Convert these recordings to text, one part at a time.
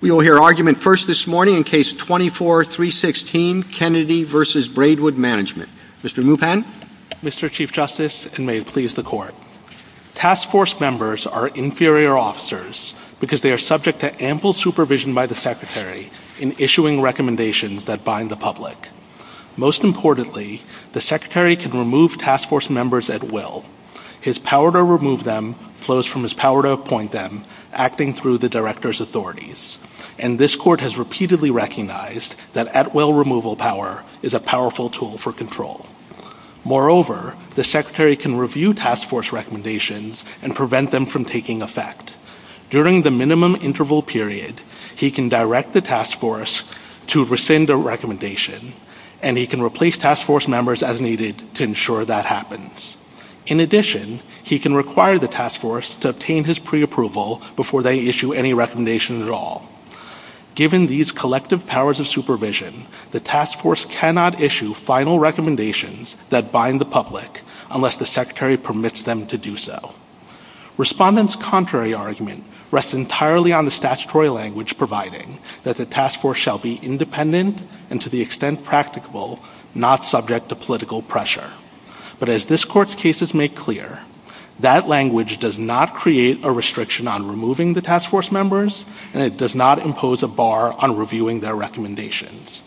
We will hear argument first this morning in Case 24-316, Kennedy v. Braidwood Mgmt. Mr. Mupan? Mr. Chief Justice, and may it please the Court, Task Force members are inferior officers because they are subject to ample supervision by the Secretary in issuing recommendations that bind the public. Most importantly, the Secretary can remove Task Force members at will. His power to remove them flows from his power to appoint them, acting through the Director's authorities. And this Court has repeatedly recognized that at-will removal power is a powerful tool for control. Moreover, the Secretary can review Task Force recommendations and prevent them from taking effect. During the minimum interval period, he can direct the Task Force to rescind a recommendation, and he can replace Task Force members as needed to ensure that happens. In addition, he can require the Task Force to obtain his preapproval before they issue any recommendation at all. Given these collective powers of supervision, the Task Force cannot issue final recommendations that bind the public unless the Secretary permits them to do so. Respondents' contrary argument rests entirely on the statutory language providing that the Task Force shall be independent and, to the extent practicable, not subject to political pressure. But as this Court's cases make clear, that language does not create a restriction on removing the Task Force members, and it does not impose a bar on reviewing their recommendations.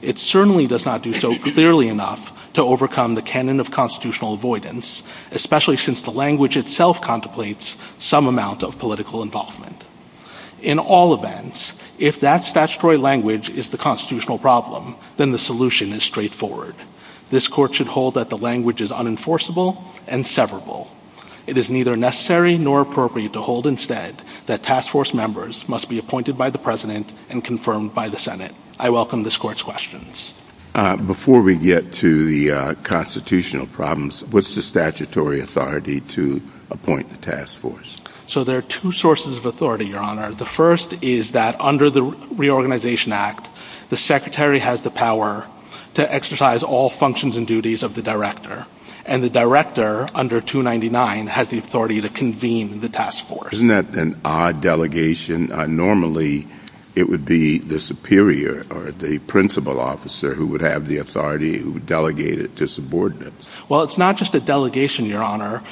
It certainly does not do so clearly enough to overcome the canon of constitutional avoidance, especially since the language itself contemplates some amount of political involvement. In all events, if that statutory language is the constitutional problem, then the solution is straightforward. This Court should hold that the language is unenforceable and severable. It is neither necessary nor appropriate to hold, instead, that Task Force members must be appointed by the President and confirmed by the Senate. I welcome this Court's questions. Before we get to the constitutional problems, what's the statutory authority to appoint the Task Force? So there are two sources of authority, Your Honor. The first is that under the Reorganization Act, the Secretary has the power to exercise all functions and duties of the Director, and the Director, under 299, has the authority to convene the Task Force. Isn't that an odd delegation? Normally, it would be the superior or the principal officer who would have the authority who would delegate it to subordinates. Well, it's not just a delegation, Your Honor.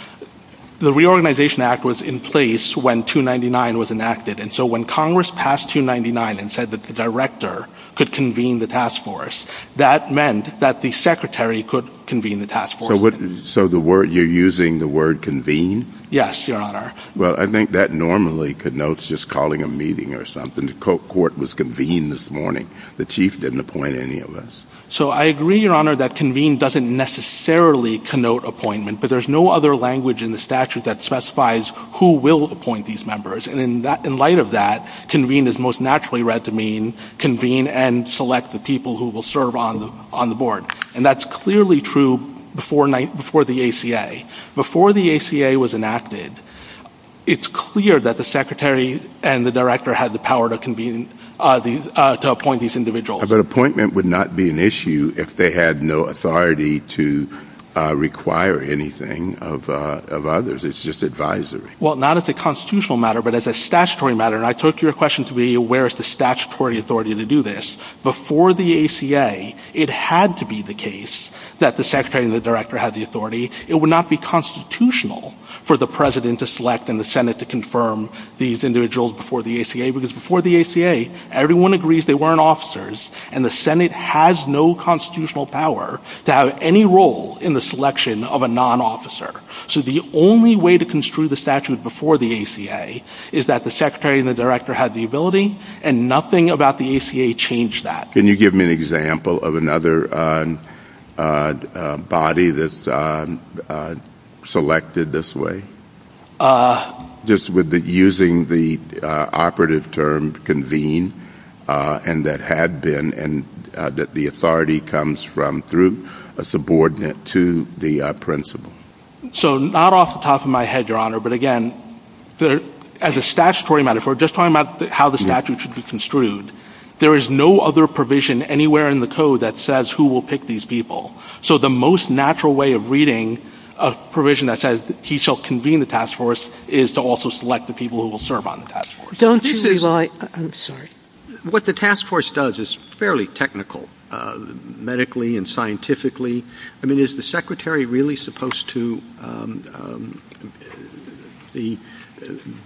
The Reorganization Act was in place when 299 was enacted, and so when Congress passed 299 and said that the Director could convene the Task Force, that meant that the Secretary could convene the Task Force. So you're using the word convene? Yes, Your Honor. Well, I think that normally connotes just calling a meeting or something. The Court was convened this morning. The Chief didn't appoint any of us. So I agree, Your Honor, that convene doesn't necessarily connote appointment, but there's no other language in the statute that specifies who will appoint these members. And in light of that, convene is most naturally read to mean convene and select the people who will serve on the Board. And that's clearly true before the ACA. Before the ACA was enacted, it's clear that the Secretary and the Director had the power to appoint these individuals. But appointment would not be an issue if they had no authority to require anything of others. It's just advisory. Well, not as a constitutional matter, but as a statutory matter. And I took your question to be where is the statutory authority to do this. Before the ACA, it had to be the case that the Secretary and the Director had the authority. It would not be constitutional for the President to select and the Senate to confirm these individuals before the ACA, because before the ACA, everyone agrees they weren't officers, and the Senate has no constitutional power to have any role in the selection of a non-officer. So the only way to construe the statute before the ACA is that the Secretary and the Director had the ability, and nothing about the ACA changed that. Can you give me an example of another body that's selected this way? Just with using the operative term convene, and that had been, and that the authority comes from through a subordinate to the principal. So not off the top of my head, Your Honor, but again, as a statutory matter, if we're just talking about how the statute should be construed, there is no other provision anywhere in the code that says who will pick these people. So the most natural way of reading a provision that says he shall convene the task force is to also select the people who will serve on the task force. What the task force does is fairly technical, medically and scientifically. I mean, is the Secretary really supposed to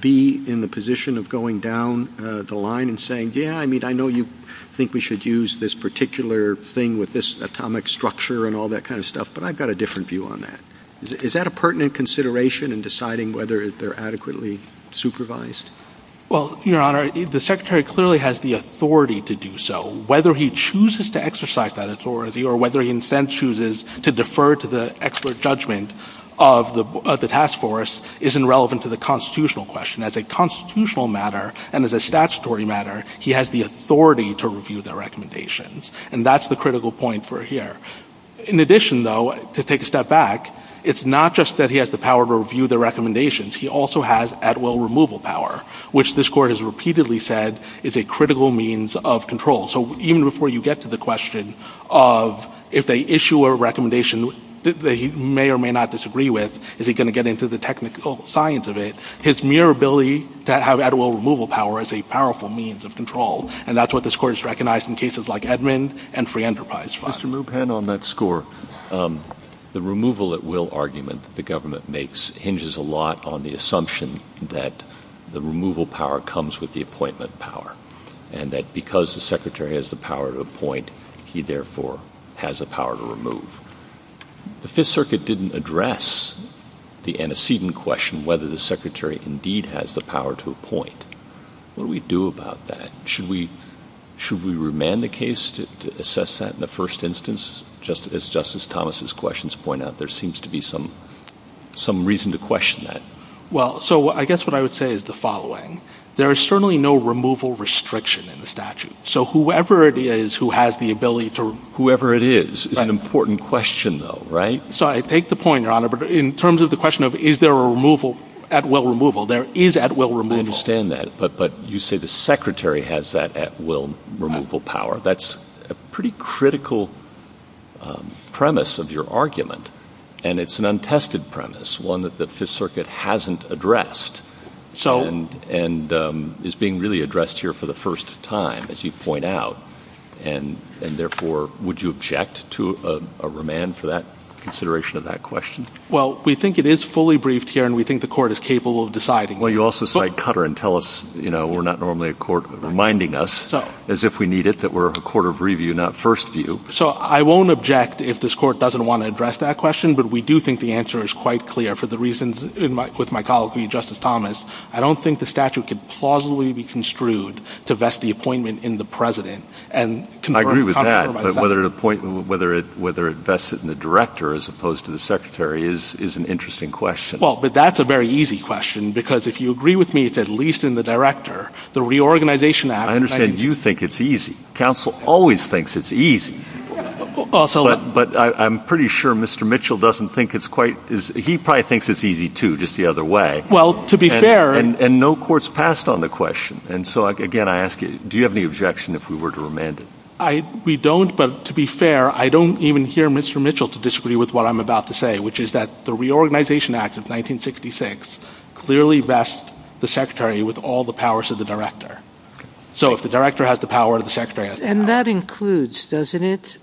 be in the position of going down the line and saying, yeah, I mean, I know you think we should use this particular thing with this atomic structure and all that kind of stuff, but I've got a different view on that. Is that a pertinent consideration in deciding whether they're adequately supervised? Well, Your Honor, the Secretary clearly has the authority to do so. Whether he chooses to exercise that authority or whether he in a sense chooses to defer to the expert judgment of the task force isn't relevant to the constitutional question. As a constitutional matter and as a statutory matter, he has the authority to review the recommendations. And that's the critical point for here. In addition, though, to take a step back, it's not just that he has the power to review the recommendations. He also has at-will removal power, which this Court has repeatedly said is a critical means of control. So even before you get to the question of if they issue a recommendation that he may or may not disagree with, is he going to get into the technical science of it, his mere ability to have at-will removal power is a powerful means of control, and that's what this Court has recognized in cases like Edmund and Frianderpuis. Mr. Lupan, on that score, the removal at-will argument the government makes hinges a lot on the assumption that the removal power comes with the appointment power, and that because the Secretary has the power to appoint, he therefore has the power to remove. The Fifth Circuit didn't address the antecedent question whether the Secretary indeed has the power to appoint. What do we do about that? Should we remand the case to assess that in the first instance? As Justice Thomas's questions point out, there seems to be some reason to question that. Well, so I guess what I would say is the following. There is certainly no removal restriction in the statute. So whoever it is who has the ability to— Whoever it is is an important question, though, right? So I take the point, Your Honor, but in terms of the question of is there a removal—at-will removal, there is at-will removal. I understand that, but you say the Secretary has that at-will removal power. That's a pretty critical premise of your argument, and it's an untested premise, one that the Fifth Circuit hasn't addressed and is being really addressed here for the first time, as you point out. And therefore, would you object to a remand for that consideration of that question? Well, we think it is fully briefed here, and we think the Court is capable of deciding. Well, you also cite Cutter and tell us we're not normally a court reminding us, as if we need it, that we're a court of review, not first view. So I won't object if this Court doesn't want to address that question, but we do think the answer is quite clear for the reasons with my colleague, Justice Thomas. I don't think the statute could plausibly be construed to vest the appointment in the President. I agree with that, but whether it vests it in the Director as opposed to the Secretary is an interesting question. Well, but that's a very easy question, because if you agree with me, it's at least in the Director. I understand you think it's easy. Counsel always thinks it's easy. But I'm pretty sure Mr. Mitchell doesn't think it's quite as – he probably thinks it's easy, too, just the other way. Well, to be fair – And no court's passed on the question. And so, again, I ask you, do you have any objection if we were to remand it? We don't, but to be fair, I don't even hear Mr. Mitchell to disagree with what I'm about to say, which is that the Reorganization Act of 1966 clearly vests the Secretary with all the powers of the Director. So if the Director has the power, the Secretary has the power. And that includes, doesn't it,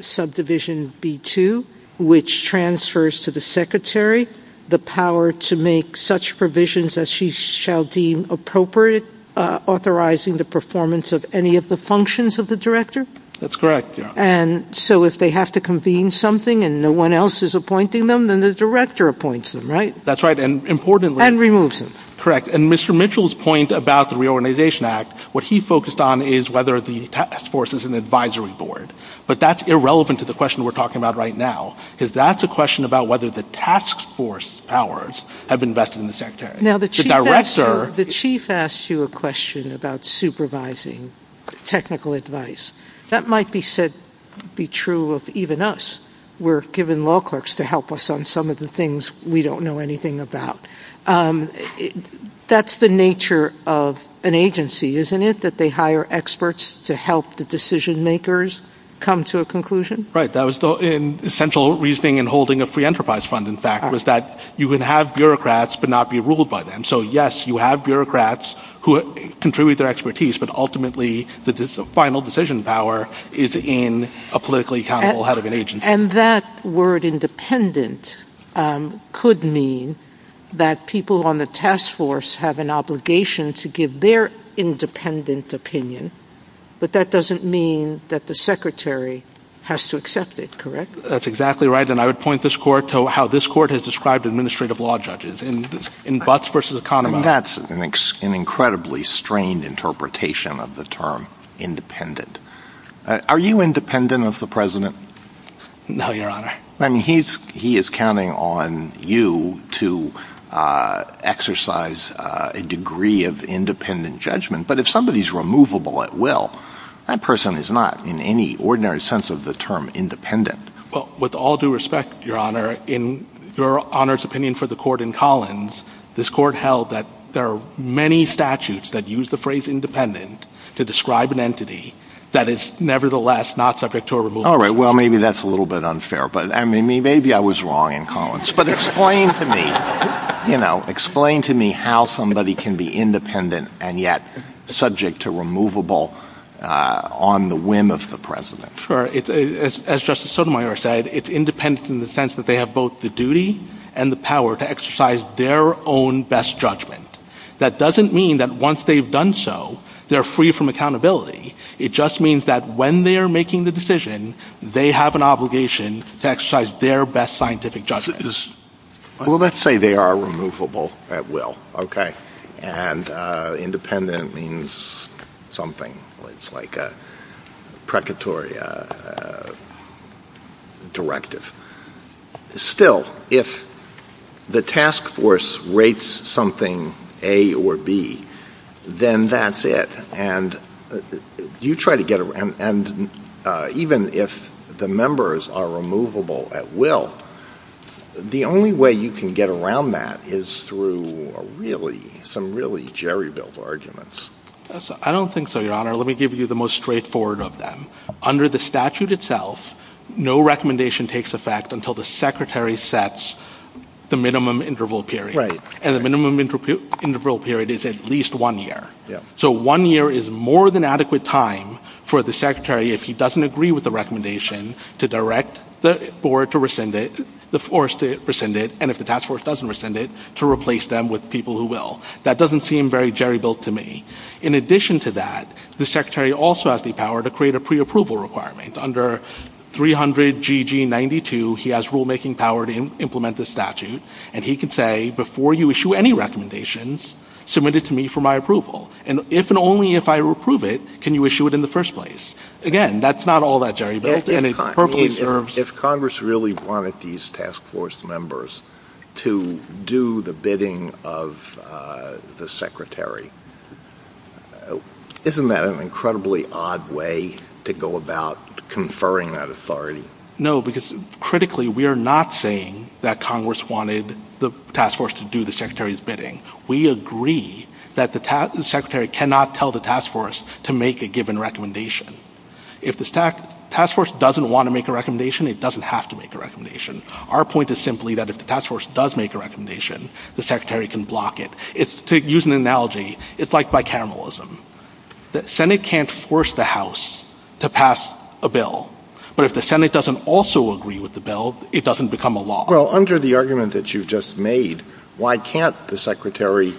subdivision B-2, which transfers to the Secretary the power to make such provisions as she shall deem appropriate, authorizing the performance of any of the functions of the Director? That's correct, yeah. And so if they have to convene something and no one else is appointing them, then the Director appoints them, right? That's right, and importantly – And removes them. Correct. And Mr. Mitchell's point about the Reorganization Act, what he focused on is whether the task force is an advisory board. But that's irrelevant to the question we're talking about right now, because that's a question about whether the task force powers have invested in the Secretary. The Chief asked you a question about supervising technical advice. That might be true of even us. We're given law clerks to help us on some of the things we don't know anything about. That's the nature of an agency, isn't it, that they hire experts to help the decision makers come to a conclusion? Right. That was the essential reasoning in holding a free enterprise fund, in fact, was that you would have bureaucrats but not be ruled by them. So yes, you have bureaucrats who contribute their expertise, but ultimately the final decision power is in a politically accountable head of an agency. And that word independent could mean that people on the task force have an obligation to give their independent opinion, but that doesn't mean that the Secretary has to accept it, correct? That's exactly right. And I would point this court to how this court has described administrative law judges in Butts v. Economist. That's an incredibly strained interpretation of the term independent. Are you independent of the president? No, Your Honor. I mean, he is counting on you to exercise a degree of independent judgment. But if somebody is removable at will, that person is not in any ordinary sense of the term independent. With all due respect, Your Honor, in Your Honor's opinion for the court in Collins, this court held that there are many statutes that use the phrase independent to describe an entity that is nevertheless not subject to a removal. All right. Well, maybe that's a little bit unfair. I mean, maybe I was wrong in Collins. But explain to me, you know, explain to me how somebody can be independent and yet subject to removable on the whim of the president. As Justice Sotomayor said, it's independent in the sense that they have both the duty and the power to exercise their own best judgment. That doesn't mean that once they've done so, they're free from accountability. It just means that when they are making the decision, they have an obligation to exercise their best scientific judgment. Well, let's say they are removable at will. And independent means something. It's like a precatory directive. Still, if the task force rates something A or B, then that's it. And even if the members are removable at will, the only way you can get around that is through some really jerry-built arguments. I don't think so, Your Honor. Let me give you the most straightforward of them. Under the statute itself, no recommendation takes effect until the secretary sets the minimum interval period. Right. And the minimum interval period is at least one year. So one year is more than adequate time for the secretary, if he doesn't agree with the recommendation, to direct the board to rescind it, the force to rescind it, and if the task force doesn't rescind it, to replace them with people who will. That doesn't seem very jerry-built to me. In addition to that, the secretary also has the power to create a preapproval requirement. Under 300GG92, he has rulemaking power to implement the statute, and he can say, before you issue any recommendations, submit it to me for my approval. And if and only if I approve it, can you issue it in the first place. Again, that's not all that jerry-built. If Congress really wanted these task force members to do the bidding of the secretary, isn't that an incredibly odd way to go about conferring that authority? No, because critically, we are not saying that Congress wanted the task force to do the secretary's bidding. We agree that the secretary cannot tell the task force to make a given recommendation. If the task force doesn't want to make a recommendation, it doesn't have to make a recommendation. Our point is simply that if the task force does make a recommendation, the secretary can block it. To use an analogy, it's like bicameralism. The Senate can't force the House to pass a bill, but if the Senate doesn't also agree with the bill, it doesn't become a law. Well, under the argument that you just made, why can't the secretary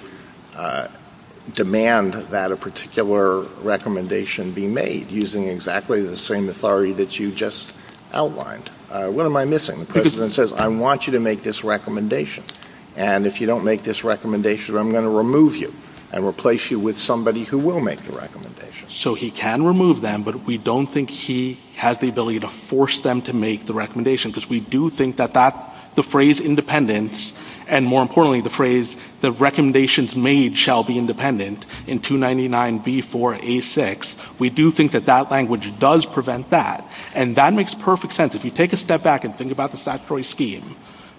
demand that a particular recommendation be made using exactly the same authority that you just outlined? What am I missing? The President says, I want you to make this recommendation. And if you don't make this recommendation, I'm going to remove you and replace you with somebody who will make the recommendation. So he can remove them, but we don't think he has the ability to force them to make the recommendation, because we do think that the phrase independence, and more importantly, the phrase that recommendations made shall be independent, in 299B4A6, we do think that that language does prevent that. And that makes perfect sense. If you take a step back and think about the statutory scheme,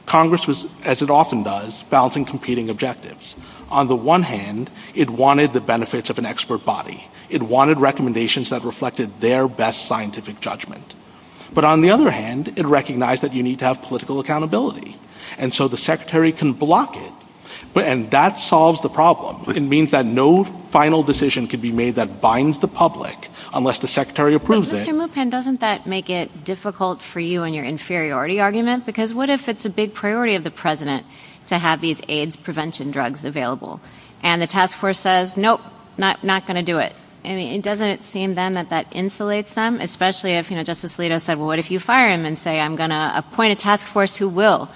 Congress was, as it often does, balancing competing objectives. On the one hand, it wanted the benefits of an expert body. It wanted recommendations that reflected their best scientific judgment. But on the other hand, it recognized that you need to have political accountability. And so the secretary can block it. And that solves the problem. It means that no final decision can be made that binds the public unless the secretary approves it. Doesn't that make it difficult for you in your inferiority argument? Because what if it's a big priority of the president to have these AIDS prevention drugs available? And the task force says, nope, not going to do it. And it doesn't seem then that that insulates them, especially if, you know, Justice Alito said, well, what if you fire him and say I'm going to appoint a task force who will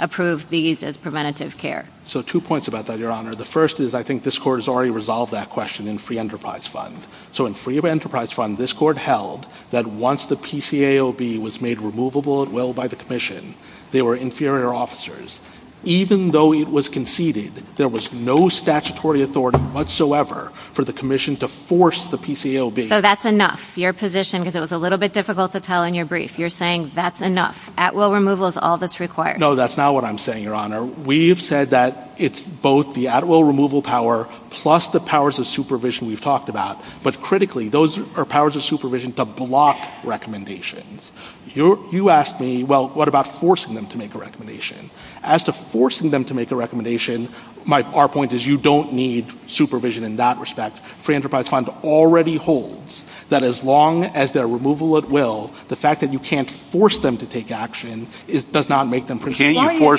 approve these as preventative care? So two points about that, Your Honor. The first is I think this court has already resolved that question in free enterprise fund. So in free enterprise fund, this court held that once the PCAOB was made removable at will by the commission, they were inferior officers. Even though it was conceded, there was no statutory authority whatsoever for the commission to force the PCAOB. So that's enough, your position, because it was a little bit difficult to tell in your brief. You're saying that's enough. At will removal is all that's required. No, that's not what I'm saying, Your Honor. We've said that it's both the at will removal power plus the powers of supervision we've talked about. But critically, those are powers of supervision to block recommendations. You asked me, well, what about forcing them to make a recommendation? As to forcing them to make a recommendation, our point is you don't need supervision in that respect. Free enterprise fund already holds that as long as they're removal at will, the fact that you can't force them to take action does not make them printable.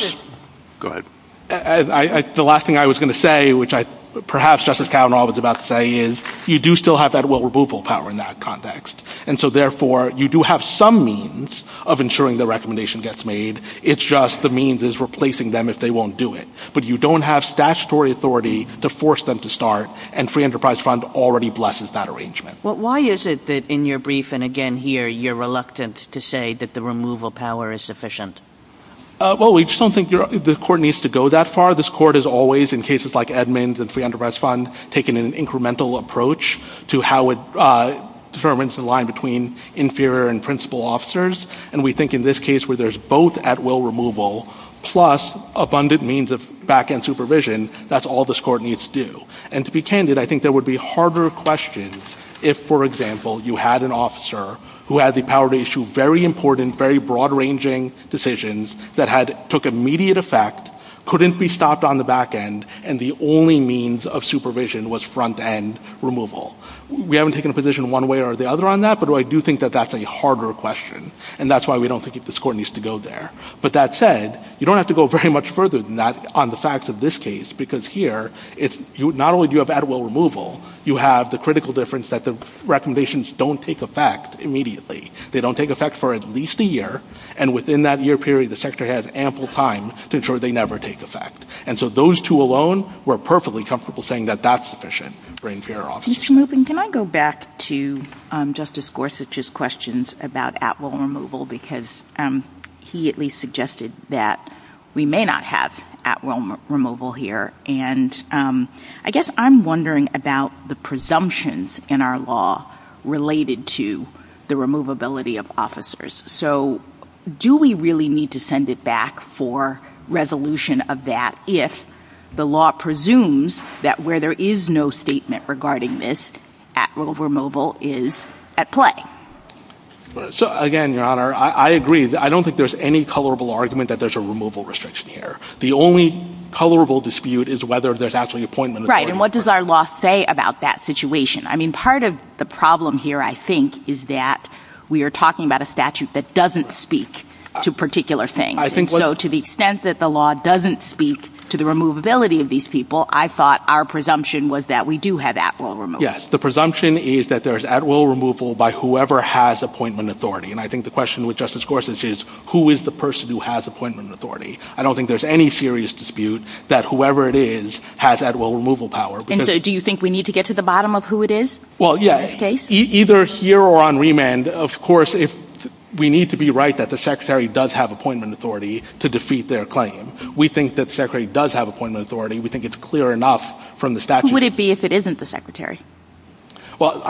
Go ahead. The last thing I was going to say, which perhaps Justice Kavanaugh was about to say, is you do still have that at will removal power in that context. And so, therefore, you do have some means of ensuring the recommendation gets made. It's just the means is replacing them if they won't do it. But you don't have statutory authority to force them to start, and free enterprise fund already blesses that arrangement. Why is it that in your brief, and again here, you're reluctant to say that the removal power is sufficient? Well, we just don't think the court needs to go that far. This court has always, in cases like Edmonds and free enterprise fund, taken an incremental approach to how it determines the line between inferior and principal officers. And we think in this case where there's both at will removal plus abundant means of back-end supervision, that's all this court needs to do. And to be candid, I think there would be harder questions if, for example, you had an officer who had the power to issue very important, very broad-ranging decisions that took immediate effect, couldn't be stopped on the back-end, and the only means of supervision was front-end removal. We haven't taken a position one way or the other on that, but I do think that that's a harder question. And that's why we don't think this court needs to go there. But that said, you don't have to go very much further than that on the facts of this case, because here, not only do you have at will removal, you have the critical difference that the recommendations don't take effect immediately. They don't take effect for at least a year, and within that year period, the Secretary has ample time to ensure they never take effect. And so those two alone, we're perfectly comfortable saying that that's sufficient for inferior officers. Can I go back to Justice Gorsuch's questions about at will removal, because he at least suggested that we may not have at will removal here. And I guess I'm wondering about the presumptions in our law related to the removability of officers. So do we really need to send it back for resolution of that if the law presumes that where there is no statement regarding this, at will removal is at play? So again, Your Honor, I agree. I don't think there's any colorable argument that there's a removal restriction here. The only colorable dispute is whether there's actually an appointment. Right. And what does our law say about that situation? I mean, part of the problem here, I think, is that we are talking about a statute that doesn't speak to particular things. So to the extent that the law doesn't speak to the removability of these people, I thought our presumption was that we do have at will removal. Yes. The presumption is that there's at will removal by whoever has appointment authority. And I think the question with Justice Gorsuch is, who is the person who has appointment authority? I don't think there's any serious dispute that whoever it is has at will removal power. And so do you think we need to get to the bottom of who it is in this case? Either here or on remand, of course, we need to be right that the secretary does have appointment authority to defeat their claim. We think that the secretary does have appointment authority. We think it's clear enough from the statute. Who would it be if it isn't the secretary? Well,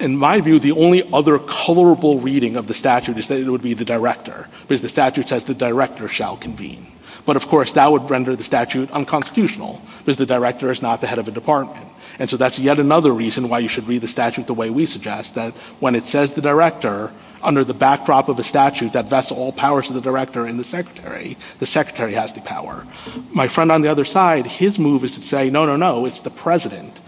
in my view, the only other colorable reading of the statute is that it would be the director. Because the statute says the director shall convene. But, of course, that would render the statute unconstitutional. Because the director is not the head of a department. And so that's yet another reason why you should read the statute the way we suggest, that when it says the director, under the backdrop of a statute that vests all powers of the director and the secretary, the secretary has the power. My friend on the other side, his move is to say, no, no, no, it's the president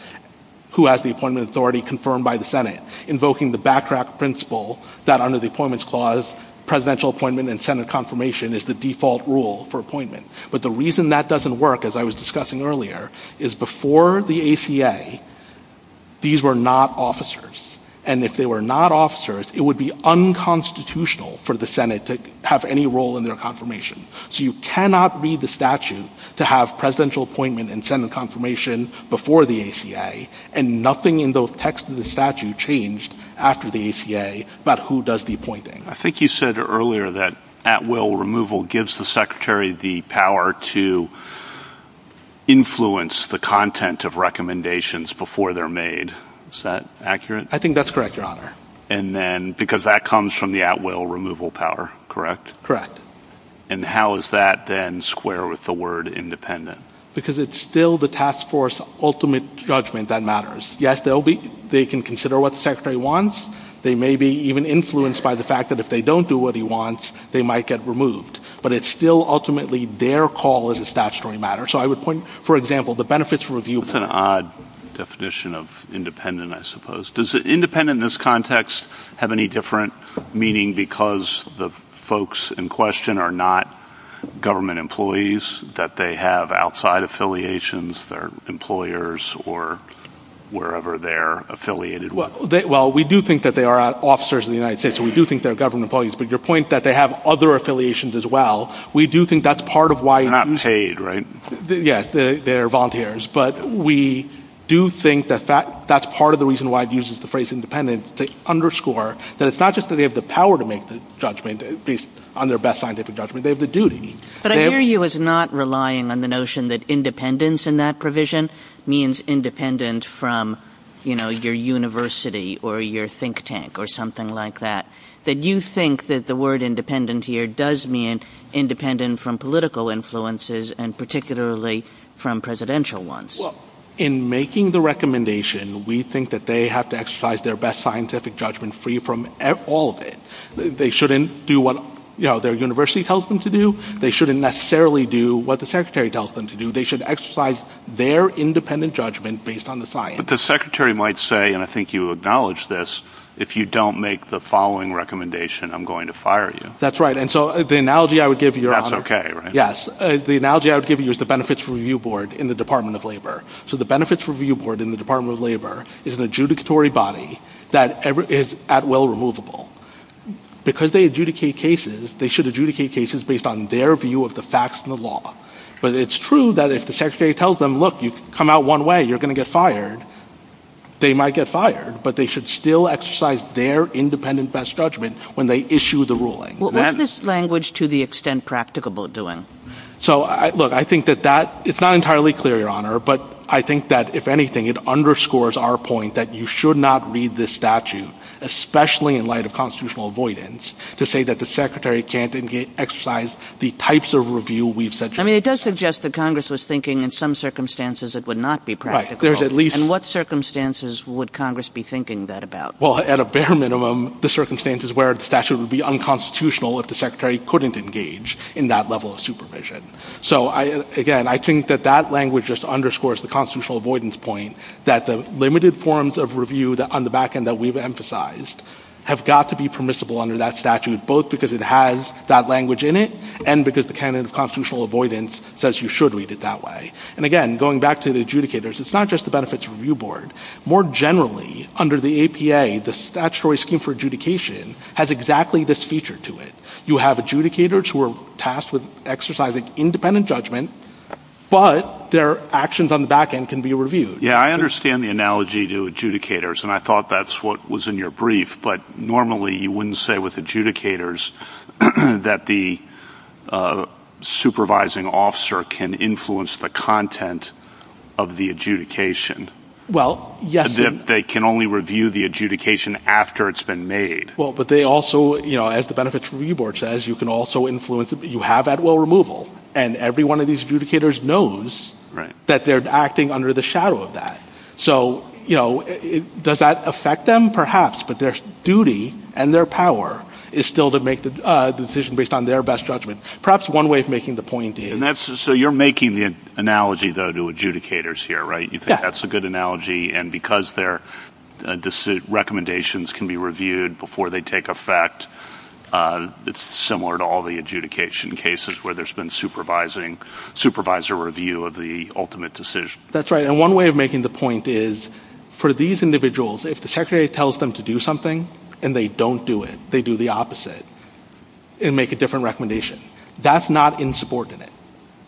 who has the appointment authority confirmed by the Senate, invoking the backdrop principle that under the Appointments Clause, presidential appointment and Senate confirmation is the default rule for appointment. But the reason that doesn't work, as I was discussing earlier, is before the ACA, these were not officers. And if they were not officers, it would be unconstitutional for the Senate to have any role in their confirmation. So you cannot read the statute to have presidential appointment and Senate confirmation before the ACA, and nothing in the text of the statute changed after the ACA about who does the appointing. I think you said earlier that at-will removal gives the secretary the power to influence the content of recommendations before they're made. Is that accurate? I think that's correct, Your Honor. And then because that comes from the at-will removal power, correct? Correct. And how is that then square with the word independent? Because it's still the task force ultimate judgment that matters. Yes, they can consider what the secretary wants. They may be even influenced by the fact that if they don't do what he wants, they might get removed. But it's still ultimately their call as a statutory matter. So I would point, for example, the benefits review power. That's an odd definition of independent, I suppose. Does independent in this context have any different meaning because the folks in question are not government employees, that they have outside affiliations, they're employers or wherever they're affiliated with? Well, we do think that they are officers of the United States, so we do think they're government employees. But your point that they have other affiliations as well, we do think that's part of why. They're not paid, right? Yes, they're volunteers. But we do think that that's part of the reason why it uses the phrase independent, to underscore that it's not just that they have the power to make the judgment based on their best scientific judgment. They have the duty. But I hear you as not relying on the notion that independence in that provision means independent from, you know, your university or your think tank or something like that. That you think that the word independent here does mean independent from political influences and particularly from presidential ones. Well, in making the recommendation, we think that they have to exercise their best scientific judgment free from all of it. They shouldn't do what, you know, their university tells them to do. They shouldn't necessarily do what the secretary tells them to do. They should exercise their independent judgment based on the science. But the secretary might say, and I think you acknowledge this, if you don't make the following recommendation, I'm going to fire you. That's right. And so the analogy I would give you. That's okay, right? Yes. The analogy I would give you is the Benefits Review Board in the Department of Labor. So the Benefits Review Board in the Department of Labor is an adjudicatory body that is at will removable. Because they adjudicate cases, they should adjudicate cases based on their view of the facts and the law. But it's true that if the secretary tells them, look, you come out one way, you're going to get fired, they might get fired. But they should still exercise their independent best judgment when they issue the ruling. What is this language, to the extent practicable, doing? So, look, I think that that, it's not entirely clear, Your Honor. But I think that, if anything, it underscores our point that you should not read this statute, especially in light of constitutional avoidance, to say that the secretary can't exercise the types of review we've suggested. I mean, it does suggest that Congress was thinking in some circumstances it would not be practical. And what circumstances would Congress be thinking that about? Well, at a bare minimum, the circumstances where the statute would be unconstitutional if the secretary couldn't engage in that level of supervision. So, again, I think that that language just underscores the constitutional avoidance point, that the limited forms of review on the back end that we've emphasized have got to be permissible under that statute, both because it has that language in it and because the canon of constitutional avoidance says you should read it that way. And, again, going back to the adjudicators, it's not just the Benefits Review Board. More generally, under the APA, the Statutory Scheme for Adjudication has exactly this feature to it. You have adjudicators who are tasked with exercising independent judgment, but their actions on the back end can be reviewed. Yeah, I understand the analogy to adjudicators, and I thought that's what was in your brief, but normally you wouldn't say with adjudicators that the supervising officer can influence the content of the adjudication. Well, yes. They can only review the adjudication after it's been made. Well, but they also, you know, as the Benefits Review Board says, you can also influence it. You have that low removal, and every one of these adjudicators knows that they're acting under the shadow of that. So, you know, does that affect them? Perhaps, but their duty and their power is still to make the decision based on their best judgment. Perhaps one way of making the point is— So you're making the analogy, though, to adjudicators here, right? Yeah. You think that's a good analogy, and because their recommendations can be reviewed before they take effect, it's similar to all the adjudication cases where there's been supervisor review of the ultimate decision. That's right. And one way of making the point is for these individuals, if the secretary tells them to do something and they don't do it, they do the opposite and make a different recommendation. That's not insubordinate,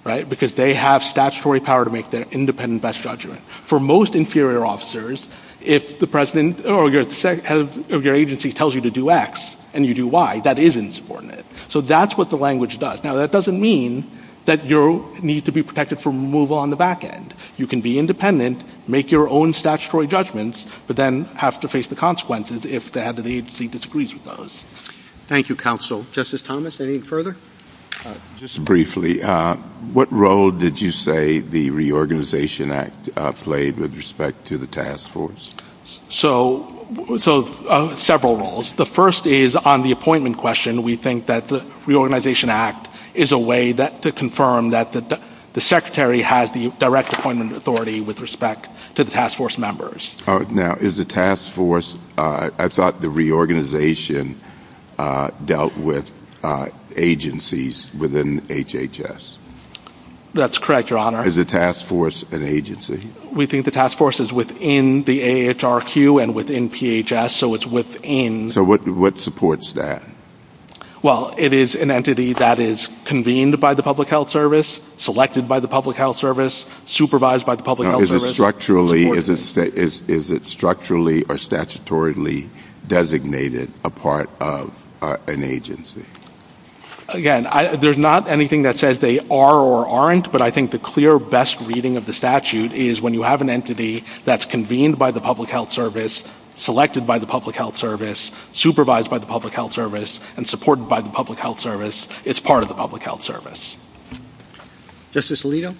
right, because they have statutory power to make their independent best judgment. For most inferior officers, if the president or your agency tells you to do X and you do Y, that is insubordinate. So that's what the language does. Now, that doesn't mean that you need to be protected from removal on the back end. You can be independent, make your own statutory judgments, but then have to face the consequences if the agency disagrees with those. Thank you, counsel. Justice Thomas, any further? Just briefly, what role did you say the Reorganization Act played with respect to the task force? So several roles. The first is on the appointment question, we think that the Reorganization Act is a way to confirm that the secretary has the direct appointment authority with respect to the task force members. Now, is the task force, I thought the reorganization dealt with agencies within HHS. That's correct, Your Honor. Is the task force an agency? We think the task force is within the AHRQ and within PHS, so it's within. So what supports that? Well, it is an entity that is convened by the public health service, selected by the public health service, supervised by the public health service. Is it structurally or statutorily designated a part of an agency? Again, there's not anything that says they are or aren't, but I think the clear best reading of the statute is when you have an entity that's convened by the public health service, selected by the public health service, supervised by the public health service, and supported by the public health service, it's part of the public health service. Justice Alito?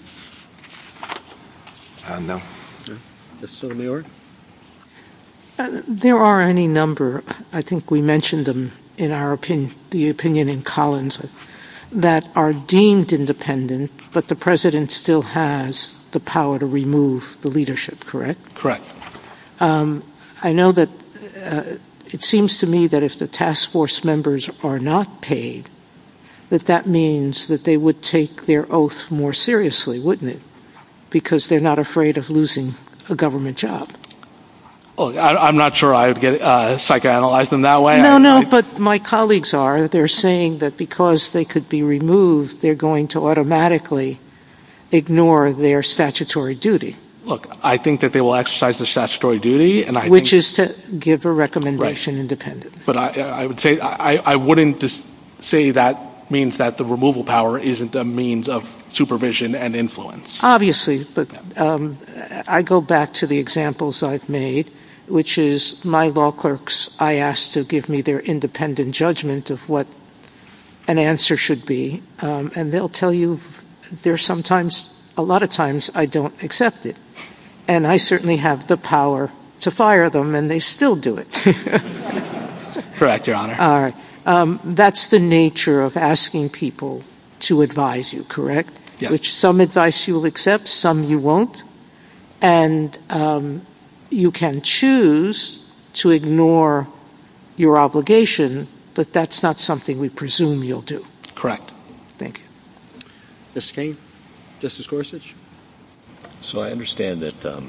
No. Justice Sotomayor? There are any number, I think we mentioned them in the opinion in Collins, that are deemed independent, but the president still has the power to remove the leadership, correct? Correct. I know that it seems to me that if the task force members are not paid, that that means that they would take their oath more seriously, wouldn't it? Because they're not afraid of losing a government job. I'm not sure I would psychoanalyze them that way. No, no, but my colleagues are. They're saying that because they could be removed, they're going to automatically ignore their statutory duty. Look, I think that they will exercise their statutory duty. Which is to give a recommendation independent. But I wouldn't say that means that the removal power isn't a means of supervision and influence. Obviously, but I go back to the examples I've made, which is my law clerks, I ask to give me their independent judgment of what an answer should be, and they'll tell you there are sometimes, a lot of times, I don't accept it. And I certainly have the power to fire them, and they still do it. Correct, Your Honor. All right. That's the nature of asking people to advise you, correct? Yes. Which some advice you'll accept, some you won't. And you can choose to ignore your obligation, but that's not something we presume you'll do. Correct. Thank you. Justine? Justice Gorsuch? So I understand that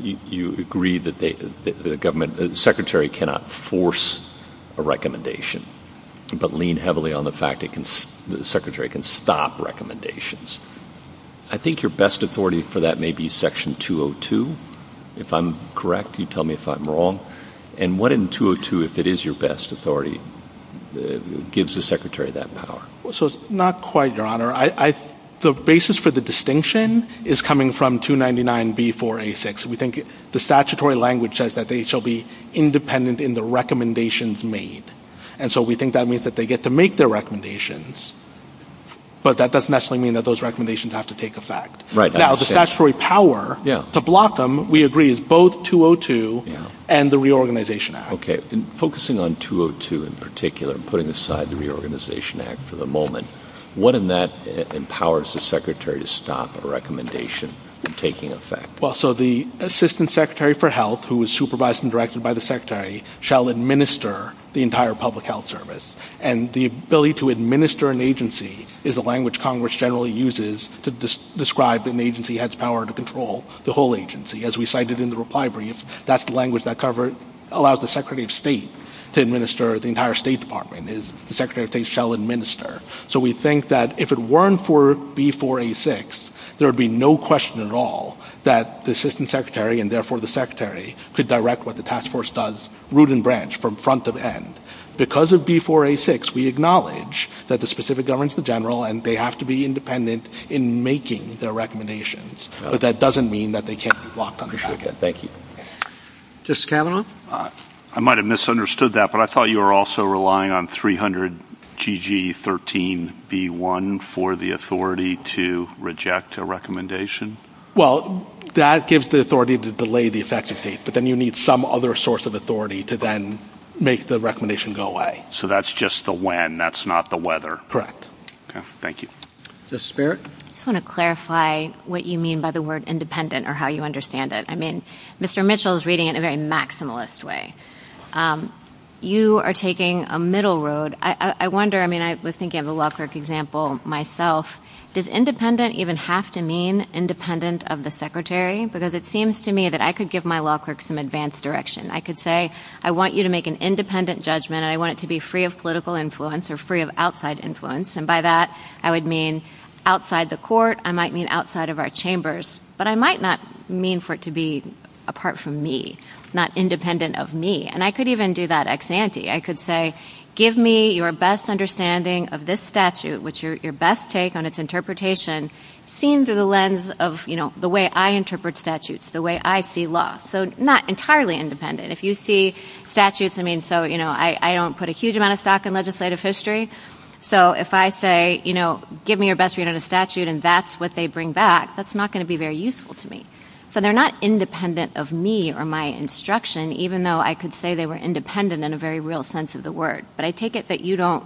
you agree that the Secretary cannot force a recommendation, but lean heavily on the fact that the Secretary can stop recommendations. I think your best authority for that may be Section 202. If I'm correct, you tell me if I'm wrong. And what in 202, if it is your best authority, gives the Secretary that power? So it's not quite, Your Honor. The basis for the distinction is coming from 299B486. We think the statutory language says that they shall be independent in the recommendations made. And so we think that means that they get to make their recommendations, but that doesn't necessarily mean that those recommendations have to take effect. Right. Now, the statutory power to block them, we agree, is both 202 and the Reorganization Act. Okay. And focusing on 202 in particular and putting aside the Reorganization Act for the moment, what in that empowers the Secretary to stop a recommendation from taking effect? Well, so the Assistant Secretary for Health, who is supervised and directed by the Secretary, shall administer the entire public health service. And the ability to administer an agency is a language Congress generally uses to describe that an agency has power to control the whole agency. As we cited in the reply brief, that's the language that allows the Secretary of State to administer the entire State Department, is the Secretary of State shall administer. So we think that if it weren't for B486, there would be no question at all that the Assistant Secretary and therefore the Secretary could direct what the task force does, root and branch, from front of end. Because of B486, we acknowledge that the specific governs the general and they have to be independent in making their recommendations. But that doesn't mean that they can't block them. Okay. Thank you. Justice Carlin? I might have misunderstood that, but I thought you were also relying on 300 GG13B1 for the authority to reject a recommendation? Well, that gives the authority to delay the effective date, but then you need some other source of authority to then make the recommendation go away. So that's just the when, that's not the weather? Correct. Okay. Thank you. Justice Beirich? I just want to clarify what you mean by the word independent or how you understand it. I mean, Mr. Mitchell is reading it in a very maximalist way. You are taking a middle road. I wonder, I mean, I was thinking of a law clerk example myself. Does independent even have to mean independent of the Secretary? Because it seems to me that I could give my law clerk some advanced direction. I could say, I want you to make an independent judgment. I want it to be free of political influence or free of outside influence. And by that, I would mean outside the court. I might mean outside of our chambers. But I might not mean for it to be apart from me, not independent of me. And I could even do that ex ante. I could say, give me your best understanding of this statute, which your best take on its interpretation, seen through the lens of the way I interpret statutes, the way I see law. So not entirely independent. If you see statutes, I mean, so, you know, I don't put a huge amount of stock in legislative history. So if I say, you know, give me your best read on a statute and that's what they bring back, that's not going to be very useful to me. So they're not independent of me or my instruction, even though I could say they were independent in a very real sense of the word. But I take it that you don't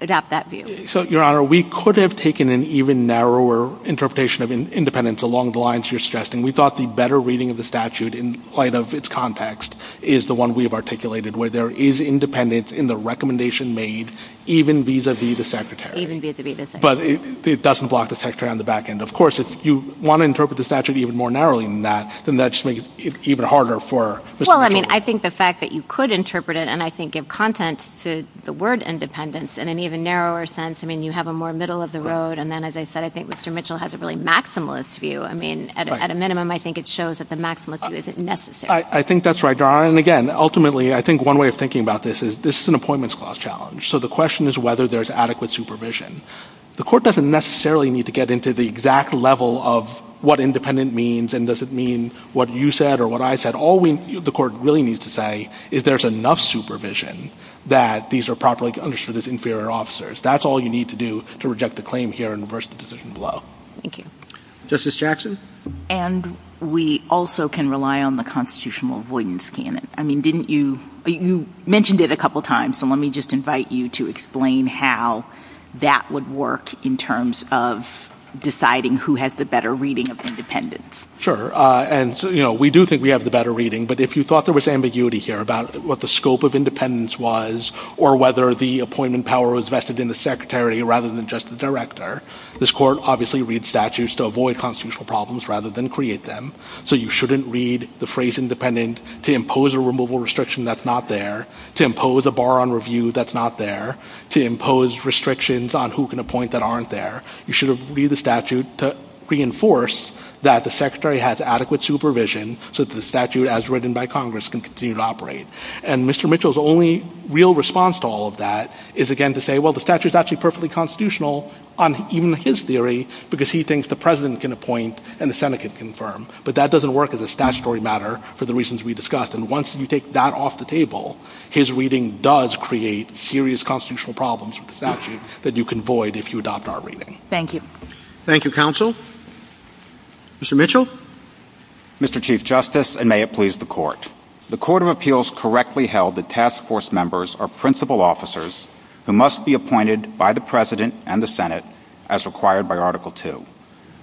adopt that view. So, Your Honor, we could have taken an even narrower interpretation of independence along the lines you're suggesting. We thought the better reading of the statute in light of its context is the one we have articulated, where there is independence in the recommendation made even vis-a-vis the secretary. Even vis-a-vis the secretary. But it doesn't block the secretary on the back end. Of course, if you want to interpret the statute even more narrowly than that, then that just makes it even harder for Mr. Mitchell. Well, I mean, I think the fact that you could interpret it and I think give content to the word independence in an even narrower sense. I mean, you have a more middle of the road. And then, as I said, I think Mr. Mitchell has a really maximalist view. I mean, at a minimum, I think it shows that the maximalist view isn't necessary. I think that's right, Your Honor. And, again, ultimately, I think one way of thinking about this is this is an appointments clause challenge. So the question is whether there's adequate supervision. The court doesn't necessarily need to get into the exact level of what independent means and does it mean what you said or what I said. All the court really needs to say is there's enough supervision that these are properly understood as inferior officers. That's all you need to do to reject the claim here and reverse the decision below. Thank you. Justice Jackson? And we also can rely on the constitutional avoidance. I mean, you mentioned it a couple of times, so let me just invite you to explain how that would work in terms of deciding who has the better reading of independence. Sure. And, you know, we do think we have the better reading, but if you thought there was ambiguity here about what the scope of independence was or whether the appointment power was vested in the secretary rather than just the director, this court obviously reads statutes to avoid constitutional problems rather than create them. So you shouldn't read the phrase independent to impose a removal restriction that's not there, to impose a bar on review that's not there, to impose restrictions on who can appoint that aren't there. You should read the statute to reinforce that the secretary has adequate supervision so that the statute as written by Congress can continue to operate. And Mr. Mitchell's only real response to all of that is, again, to say, well, the statute's actually perfectly constitutional on even his theory because he thinks the president can appoint and the Senate can confirm. But that doesn't work as a statutory matter for the reasons we discussed. And once you take that off the table, his reading does create serious constitutional problems with the statute that you can avoid if you adopt our reading. Thank you. Thank you, counsel. Mr. Mitchell. Mr. Chief Justice, and may it please the Court. The Court of Appeals correctly held that task force members are principal officers who must be appointed by the president and the Senate as required by Article II.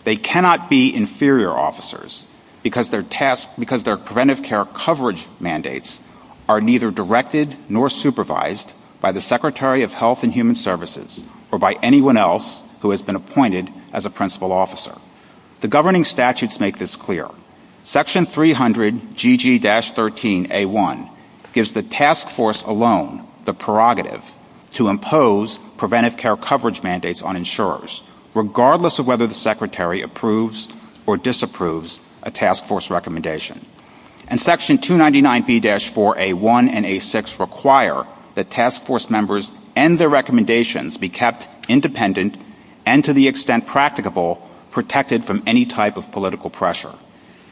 They cannot be inferior officers because their preventive care coverage mandates are neither directed nor supervised by the Secretary of Health and Human Services or by anyone else who has been appointed as a principal officer. The governing statutes make this clear. Section 300GG-13A1 gives the task force alone the prerogative to impose preventive care coverage mandates on insurers, regardless of whether the secretary approves or disapproves a task force recommendation. And Section 299B-4A1 and A6 require that task force members and their recommendations be kept independent and, to the extent practicable, protected from any type of political pressure.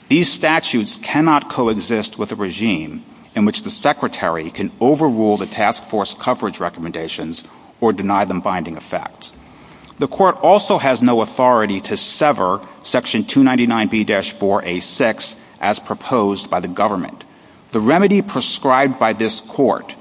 These statutes cannot coexist with a regime in which the secretary can overrule the task force coverage recommendations or deny them binding effects. The Court also has no authority to sever Section 299B-4A6 as proposed by the government. The remedy prescribed by this Court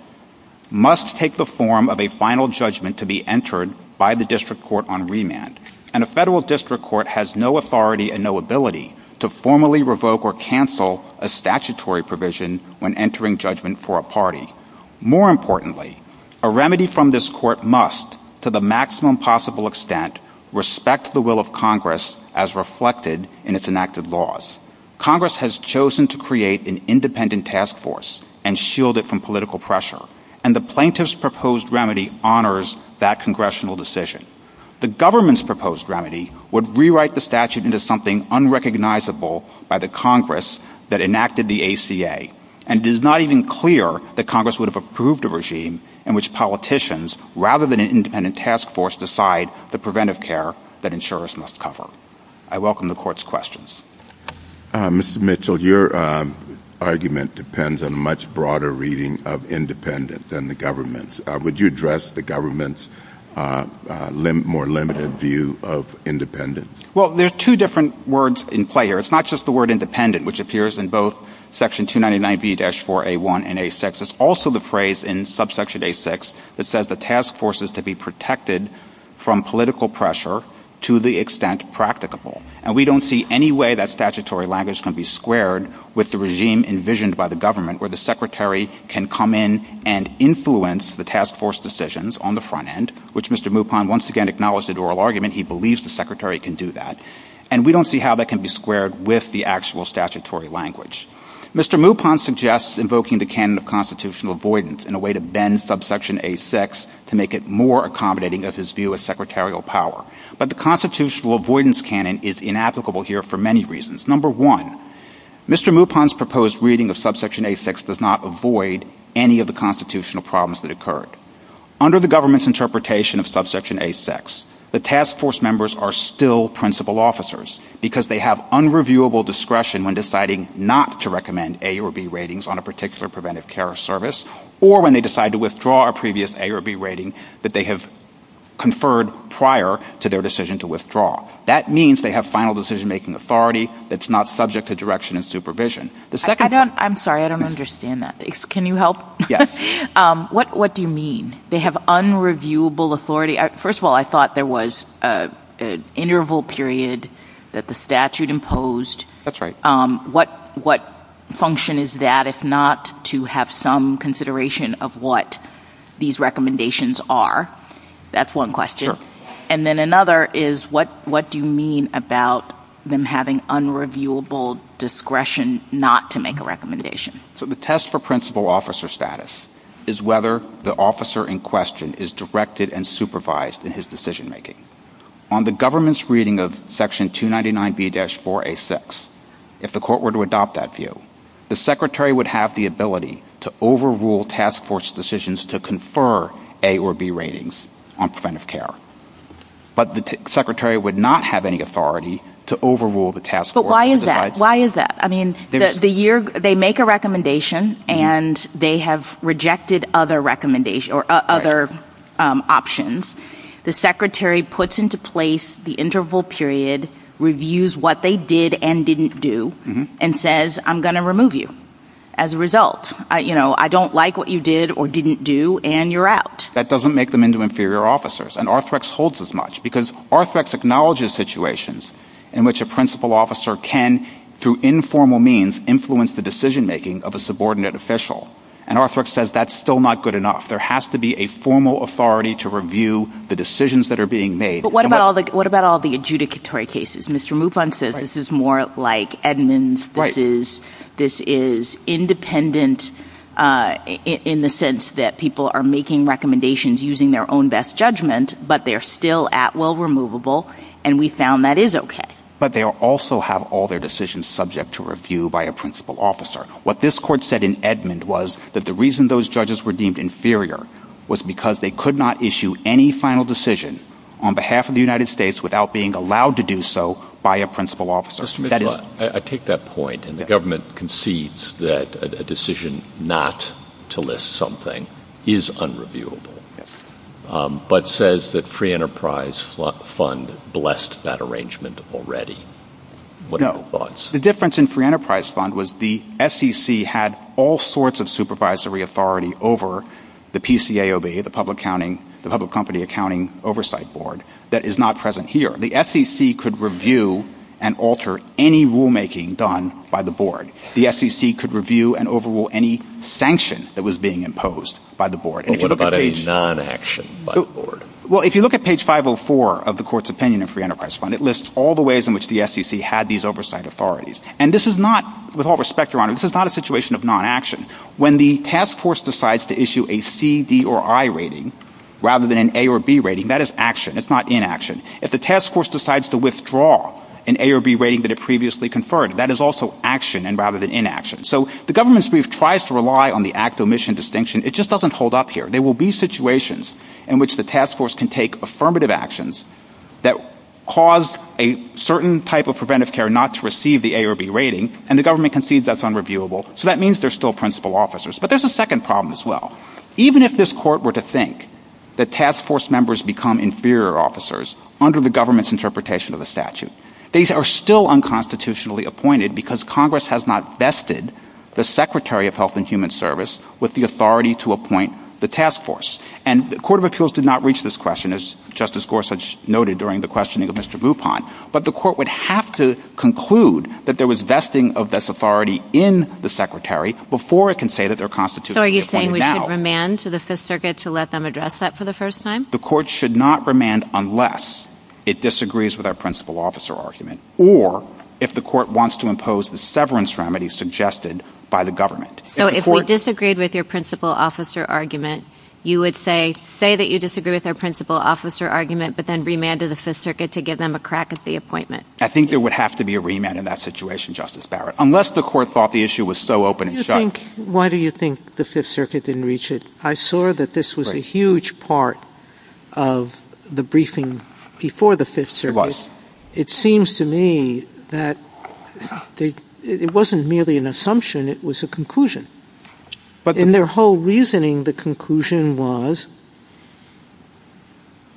must take the form of a final judgment to be entered by the district court on remand, and a federal district court has no authority and no ability to formally revoke or cancel a statutory provision when entering judgment for a party. More importantly, a remedy from this Court must, to the maximum possible extent, respect the will of Congress as reflected in its enacted laws. Congress has chosen to create an independent task force and shield it from political pressure, and the plaintiff's proposed remedy honors that congressional decision. The government's proposed remedy would rewrite the statute into something unrecognizable by the Congress that enacted the ACA, and it is not even clear that Congress would have approved a regime in which politicians, rather than an independent task force, decide the preventive care that insurers must cover. I welcome the Court's questions. Mr. Mitchell, your argument depends on a much broader reading of independent than the government's. Would you address the government's more limited view of independence? Well, there are two different words in play here. It's not just the word independent, which appears in both Section 299B-4A1 and A6. It's also the phrase in subsection A6 that says the task force is to be protected from political pressure to the extent practicable. And we don't see any way that statutory language can be squared with the regime envisioned by the government, where the secretary can come in and influence the task force decisions on the front end, which Mr. Mupon once again acknowledged in oral argument. He believes the secretary can do that. And we don't see how that can be squared with the actual statutory language. Mr. Mupon suggests invoking the canon of constitutional avoidance in a way to bend subsection A6 to make it more accommodating of his view of secretarial power. But the constitutional avoidance canon is inapplicable here for many reasons. Number one, Mr. Mupon's proposed reading of subsection A6 does not avoid any of the constitutional problems that occurred. Under the government's interpretation of subsection A6, the task force members are still principal officers because they have unreviewable discretion when deciding not to recommend A or B ratings on a particular preventive care service or when they decide to withdraw a previous A or B rating that they have conferred prior to their decision to withdraw. That means they have final decision-making authority that's not subject to direction and supervision. I'm sorry, I don't understand that. Can you help? Yes. What do you mean? They have unreviewable authority? First of all, I thought there was an interval period that the statute imposed. That's right. What function is that if not to have some consideration of what these recommendations are? That's one question. And then another is what do you mean about them having unreviewable discretion not to make a recommendation? So the test for principal officer status is whether the officer in question is directed and supervised in his decision-making. On the government's reading of section 299B-4A6, if the court were to adopt that view, the secretary would have the ability to overrule task force decisions to confer A or B ratings on preventive care. But the secretary would not have any authority to overrule the task force. But why is that? Why is that? I mean, they make a recommendation and they have rejected other options. The secretary puts into place the interval period, reviews what they did and didn't do, and says, I'm going to remove you as a result. I don't like what you did or didn't do, and you're out. That doesn't make them into inferior officers. And Arthrex holds as much because Arthrex acknowledges situations in which a principal officer can, through informal means, influence the decision-making of a subordinate official. And Arthrex says that's still not good enough. There has to be a formal authority to review the decisions that are being made. But what about all the adjudicatory cases? Mr. Mufon says this is more like Edmunds. This is independent in the sense that people are making recommendations using their own best judgment, but they're still at will removable, and we found that is okay. But they also have all their decisions subject to review by a principal officer. What this court said in Edmund was that the reason those judges were deemed inferior was because they could not issue any final decision on behalf of the United States without being allowed to do so by a principal officer. Mr. Mufon, I take that point, and the government concedes that a decision not to list something is unreviewable, but says that Free Enterprise Fund blessed that arrangement already. What are your thoughts? The difference in Free Enterprise Fund was the SEC had all sorts of supervisory authority over the PCAOB, the Public Company Accounting Oversight Board, that is not present here. The SEC could review and alter any rulemaking done by the board. The SEC could review and overrule any sanction that was being imposed by the board. What about a non-action by the board? Well, if you look at page 504 of the court's opinion of Free Enterprise Fund, it lists all the ways in which the SEC had these oversight authorities. And this is not, with all respect, Your Honor, this is not a situation of non-action. When the task force decides to issue a C, D, or I rating rather than an A or B rating, that is action. It's not inaction. If the task force decides to withdraw an A or B rating that it previously conferred, that is also action rather than inaction. So the government's brief tries to rely on the act-omission distinction. It just doesn't hold up here. There will be situations in which the task force can take affirmative actions that cause a certain type of preventive care not to receive the A or B rating, and the government concedes that's unreviewable. So that means there's still principal officers. But there's a second problem as well. Even if this court were to think that task force members become inferior officers under the government's interpretation of the statute, they are still unconstitutionally appointed because Congress has not vested the Secretary of Health and Human Service with the authority to appoint the task force. And the Court of Appeals did not reach this question, as Justice Gorsuch noted during the questioning of Mr. Bupont, but the court would have to conclude that there was vesting of this authority in the Secretary before it can say that they're constitutionally appointed now. Should the court remand to the Fifth Circuit to let them address that for the first time? The court should not remand unless it disagrees with our principal officer argument or if the court wants to impose the severance remedy suggested by the government. So if we disagreed with your principal officer argument, you would say, say that you disagree with our principal officer argument, but then remand to the Fifth Circuit to give them a crack at the appointment? I think there would have to be a remand in that situation, Justice Barrett, unless the court thought the issue was so open and shut. Why do you think the Fifth Circuit didn't reach it? I saw that this was a huge part of the briefing before the Fifth Circuit. It was. It seems to me that it wasn't merely an assumption, it was a conclusion. In their whole reasoning, the conclusion was...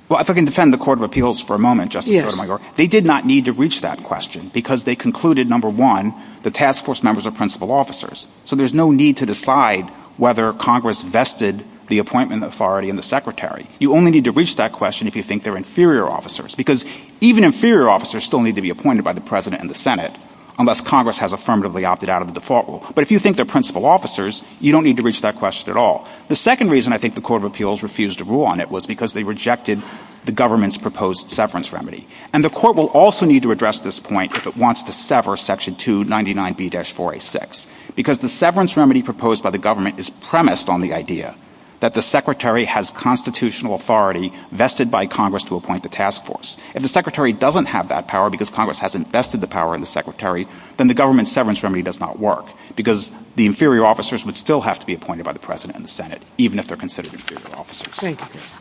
Well, if I can defend the Court of Appeals for a moment, Justice, they did not need to reach that question because they concluded, number one, the task force members are principal officers, so there's no need to decide whether Congress vested the appointment authority in the secretary. You only need to reach that question if you think they're inferior officers because even inferior officers still need to be appointed by the President and the Senate unless Congress has affirmatively opted out of the default rule. But if you think they're principal officers, you don't need to reach that question at all. The second reason I think the Court of Appeals refused to rule on it was because they rejected the government's proposed severance remedy. And the Court will also need to address this point if it wants to sever Section 299B-486 because the severance remedy proposed by the government is premised on the idea that the secretary has constitutional authority vested by Congress to appoint the task force. If the secretary doesn't have that power because Congress hasn't vested the power in the secretary, then the government's severance remedy does not work because the inferior officers would still have to be appointed by the President and the Senate even if they're considered inferior officers.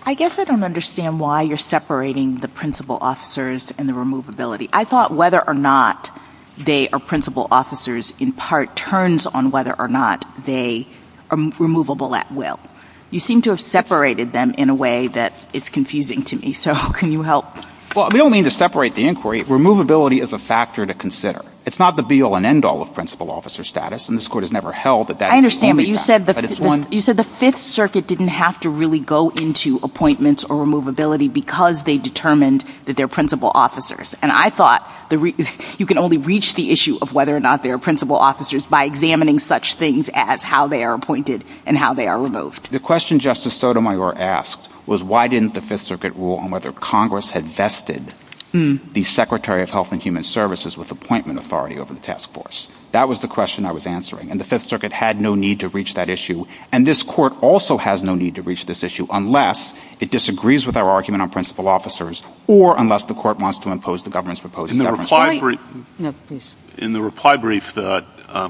I guess I don't understand why you're separating the principal officers and the removability. I thought whether or not they are principal officers, in part, turns on whether or not they are removable at will. You seem to have separated them in a way that is confusing to me, so can you help? Well, we don't mean to separate the inquiry. Removability is a factor to consider. It's not the be-all and end-all of principal officer status, and this Court has never held that that is a handicap. You said the Fifth Circuit didn't have to really go into appointments or removability because they determined that they're principal officers, and I thought you can only reach the issue of whether or not they're principal officers by examining such things as how they are appointed and how they are removed. The question Justice Sotomayor asked was, why didn't the Fifth Circuit rule on whether Congress had vested the Secretary of Health and Human Services with appointment authority over the task force? That was the question I was answering, and the Fifth Circuit had no need to reach that issue, and this Court also has no need to reach this issue unless it disagrees with our argument on principal officers or unless the Court wants to impose the government's proposed government statute. In the reply brief, the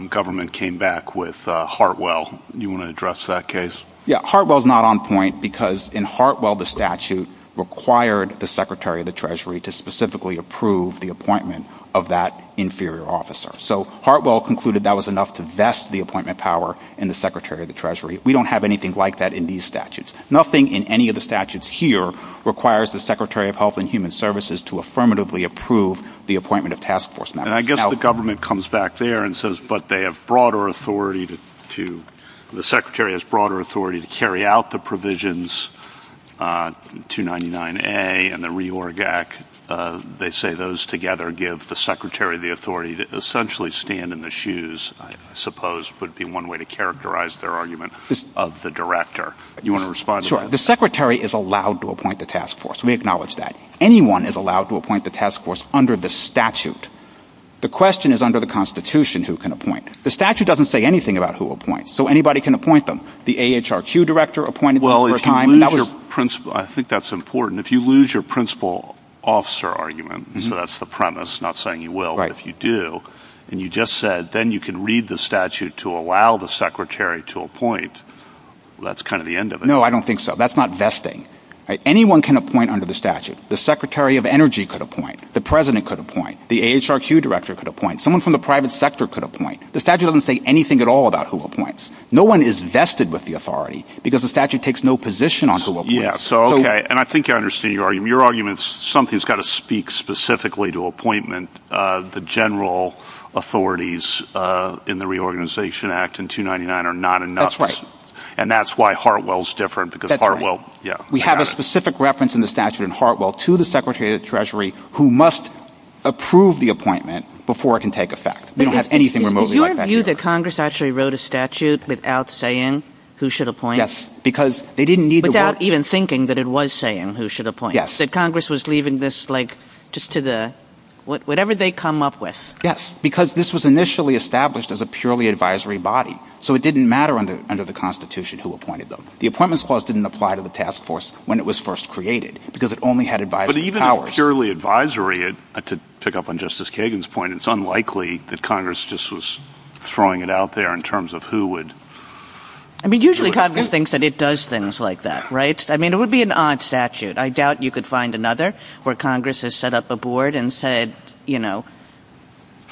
government came back with Hartwell. Do you want to address that case? Yeah, Hartwell's not on point because in Hartwell, the statute required the Secretary of the Treasury to specifically approve the appointment of that inferior officer. So Hartwell concluded that was enough to vest the appointment power in the Secretary of the Treasury. We don't have anything like that in these statutes. Nothing in any of the statutes here requires the Secretary of Health and Human Services to affirmatively approve the appointment of task force members. And I guess the government comes back there and says, but they have broader authority to, the Secretary has broader authority to carry out the provisions, 299A and the RE-ORG-AC, they say those together give the Secretary the authority to essentially stand in the shoes, I suppose, would be one way to characterize their argument, of the director. Do you want to respond to that? Sure. The Secretary is allowed to appoint the task force. We acknowledge that. Anyone is allowed to appoint the task force under the statute. The question is under the Constitution who can appoint. The statute doesn't say anything about who appoints. So anybody can appoint them. The AHRQ director appointed one at a time. Well, if you lose your principal, I think that's important. If you lose your principal officer argument, so that's the premise, not saying you will, but if you do, and you just said then you can read the statute to allow the secretary to appoint, that's kind of the end of it. No, I don't think so. That's not vesting. Anyone can appoint under the statute. The Secretary of Energy could appoint. The president could appoint. The AHRQ director could appoint. Someone from the private sector could appoint. The statute doesn't say anything at all about who appoints. No one is vested with the authority because the statute takes no position on who appoints. So, okay, and I think I understand your argument. Something has got to speak specifically to appointment. The general authorities in the Reorganization Act and 299 are not enough. That's right. And that's why Hartwell is different. That's right. We have a specific reference in the statute in Hartwell to the Secretary of the Treasury who must approve the appointment before it can take effect. They don't have anything remotely like that. Is your view that Congress actually wrote a statute without saying who should appoint? Yes, because they didn't need to vote. Even thinking that it was saying who should appoint. That Congress was leaving this, like, just to the, whatever they come up with. Yes, because this was initially established as a purely advisory body. So it didn't matter under the Constitution who appointed them. The Appointments Clause didn't apply to the task force when it was first created because it only had advisory powers. But even a purely advisory, to pick up on Justice Kagan's point, it's unlikely that Congress just was throwing it out there in terms of who would. I mean, usually Congress thinks that it does things like that, right? I mean, it would be an odd statute. I doubt you could find another where Congress has set up a board and said, you know,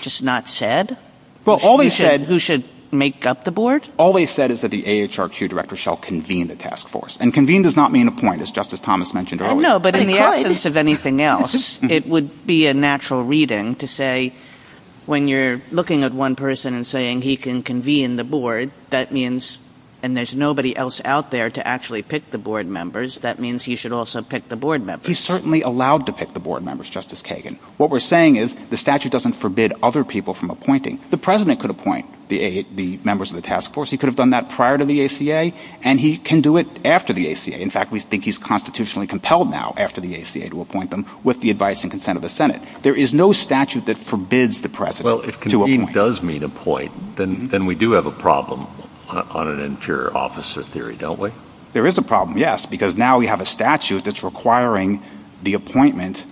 just not said who should make up the board. All they said is that the AHRQ director shall convene the task force. And convene does not mean appoint, as Justice Thomas mentioned earlier. No, but in the absence of anything else, it would be a natural reading to say when you're looking at one person and saying he can convene the board, that means, and there's nobody else out there to actually pick the board members, that means he should also pick the board members. He's certainly allowed to pick the board members, Justice Kagan. What we're saying is the statute doesn't forbid other people from appointing. The president could appoint the members of the task force. He could have done that prior to the ACA, and he can do it after the ACA. In fact, we think he's constitutionally compelled now after the ACA to appoint them with the advice and consent of the Senate. There is no statute that forbids the president to appoint. Well, if convene does mean appoint, then we do have a problem on an inferior officer theory, don't we? There is a problem, yes, because now we have a statute that's requiring the appointment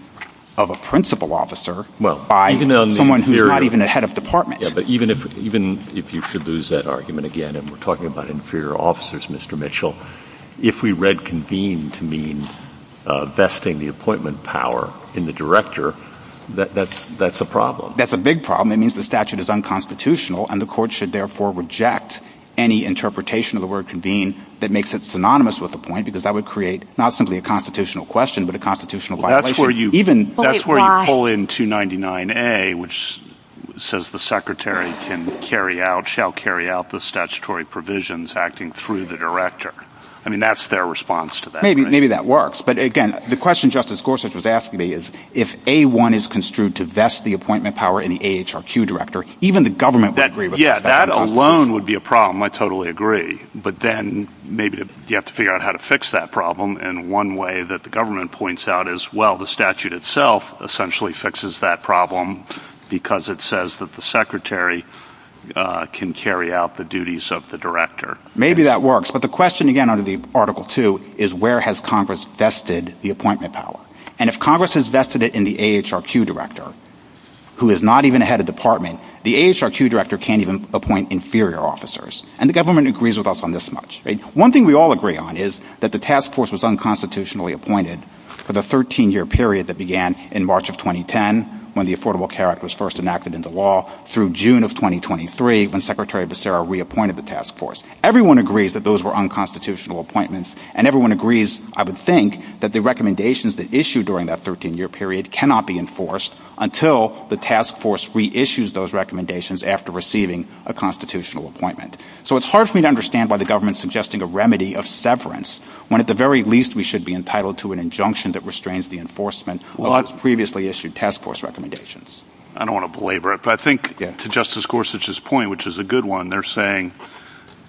of a principal officer by someone who's not even a head of department. Yeah, but even if you could lose that argument again, and we're talking about inferior officers, Mr. Mitchell, if we read convene to mean vesting the appointment power in the director, that's a problem. That's a big problem. It means the statute is unconstitutional, and the court should, therefore, reject any interpretation of the word convene that makes it synonymous with appoint because that would create not simply a constitutional question but a constitutional violation. That's where you pull in 299A, which says the secretary can carry out, or shall carry out the statutory provisions acting through the director. I mean, that's their response to that. Maybe that works, but again, the question Justice Gorsuch was asking me is if A-1 is construed to vest the appointment power in the AHRQ director, even the government would agree with that. Yeah, that alone would be a problem. I totally agree, but then maybe you have to figure out how to fix that problem, and one way that the government points out is, well, the statute itself essentially fixes that problem because it says that the secretary can carry out the duties of the director. Maybe that works, but the question, again, under the Article 2 is where has Congress vested the appointment power, and if Congress has vested it in the AHRQ director, who is not even a head of department, the AHRQ director can't even appoint inferior officers, and the government agrees with us on this much. One thing we all agree on is that the task force was unconstitutionally appointed for the 13-year period that began in March of 2010 when the Affordable Care Act was first enacted into law through June of 2023 when Secretary Becerra reappointed the task force. Everyone agrees that those were unconstitutional appointments, and everyone agrees, I would think, that the recommendations that issued during that 13-year period cannot be enforced until the task force reissues those recommendations after receiving a constitutional appointment. So it's hard for me to understand why the government is suggesting a remedy of severance when at the very least we should be entitled to an injunction that restrains the enforcement of previously issued task force recommendations. I don't want to belabor it, but I think to Justice Gorsuch's point, which is a good one, they're saying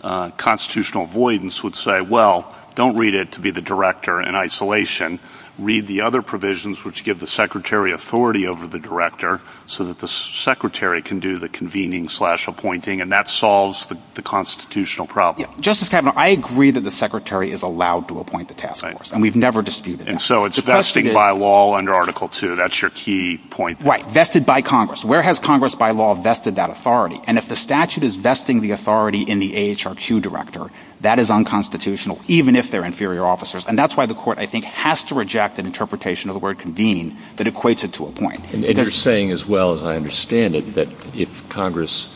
constitutional avoidance would say, well, don't read it to be the director in isolation. Read the other provisions which give the secretary authority over the director so that the secretary can do the convening slash appointing, and that solves the constitutional problem. Justice Kavanaugh, I agree that the secretary is allowed to appoint the task force, and we've never disputed that. And so it's vested by law under Article II. That's your key point. Right. Vested by Congress. Where has Congress by law vested that authority? And if the statute is vesting the authority in the AHRQ director, that is unconstitutional, even if they're inferior officers, and that's why the court, I think, has to reject an interpretation of the word convene that equates it to appoint. And you're saying as well as I understand it that if Congress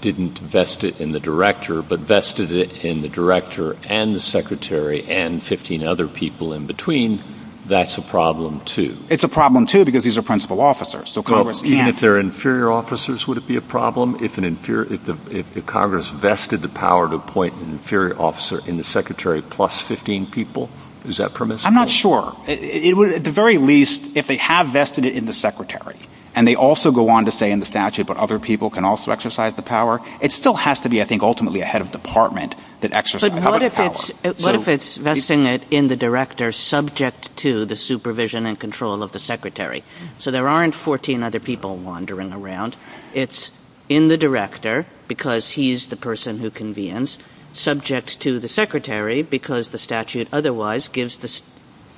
didn't vest it in the director but vested it in the director and the secretary and 15 other people in between, that's a problem, too. It's a problem, too, because these are principal officers. So Congress, even if they're inferior officers, would it be a problem if Congress vested the power to appoint an inferior officer in the secretary plus 15 people? Is that permissible? I'm not sure. At the very least, if they have vested it in the secretary, and they also go on to say in the statute, but other people can also exercise the power, it still has to be, I think, ultimately a head of department that exercises the power. But what if it's vesting it in the director subject to the supervision and control of the secretary? So there aren't 14 other people wandering around. It's in the director because he's the person who convenes, subject to the secretary because the statute otherwise gives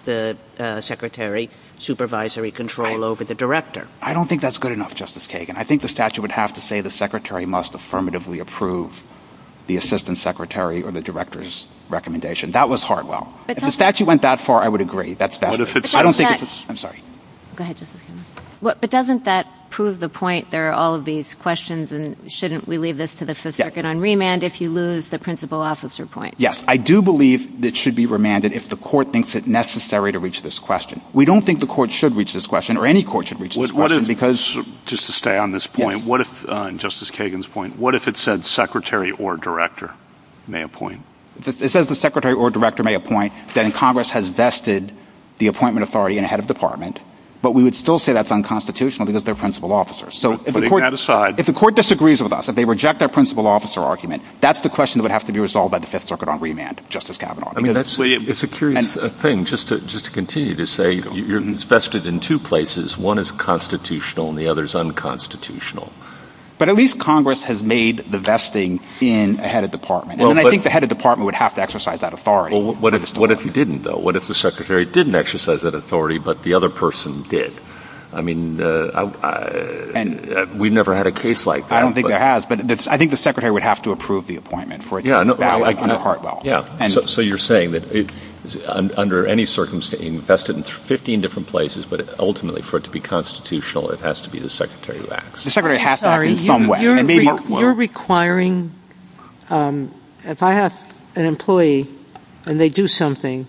the secretary supervisory control over the director. I don't think that's good enough, Justice Kagan. I think the statute would have to say the secretary must affirmatively approve the assistant secretary or the director's recommendation. That was Hartwell. If the statute went that far, I would agree. But doesn't that prove the point? There are all of these questions, and shouldn't we leave this to the Fifth Circuit on remand if you lose the principal officer point? Yes, I do believe it should be remanded if the court thinks it necessary to reach this question. We don't think the court should reach this question, or any court should reach this question. Just to stay on this point, and Justice Kagan's point, what if it said secretary or director may appoint? It says the secretary or director may appoint, then Congress has vested the appointment authority in a head of department, but we would still say that's unconstitutional because they're principal officers. So if the court disagrees with us, if they reject our principal officer argument, that's the question that would have to be resolved by the Fifth Circuit on remand, Justice Kavanaugh. It's a curious thing. Just to continue to say, it's vested in two places. One is constitutional, and the other is unconstitutional. But at least Congress has made the vesting in a head of department. And I think the head of department would have to exercise that authority. What if he didn't, though? What if the secretary didn't exercise that authority, but the other person did? I mean, we've never had a case like that. I don't think there has, but I think the secretary would have to approve the appointment. So you're saying that under any circumstance, vested in 15 different places, but ultimately for it to be constitutional, it has to be the secretary who acts. You're requiring, if I have an employee and they do something,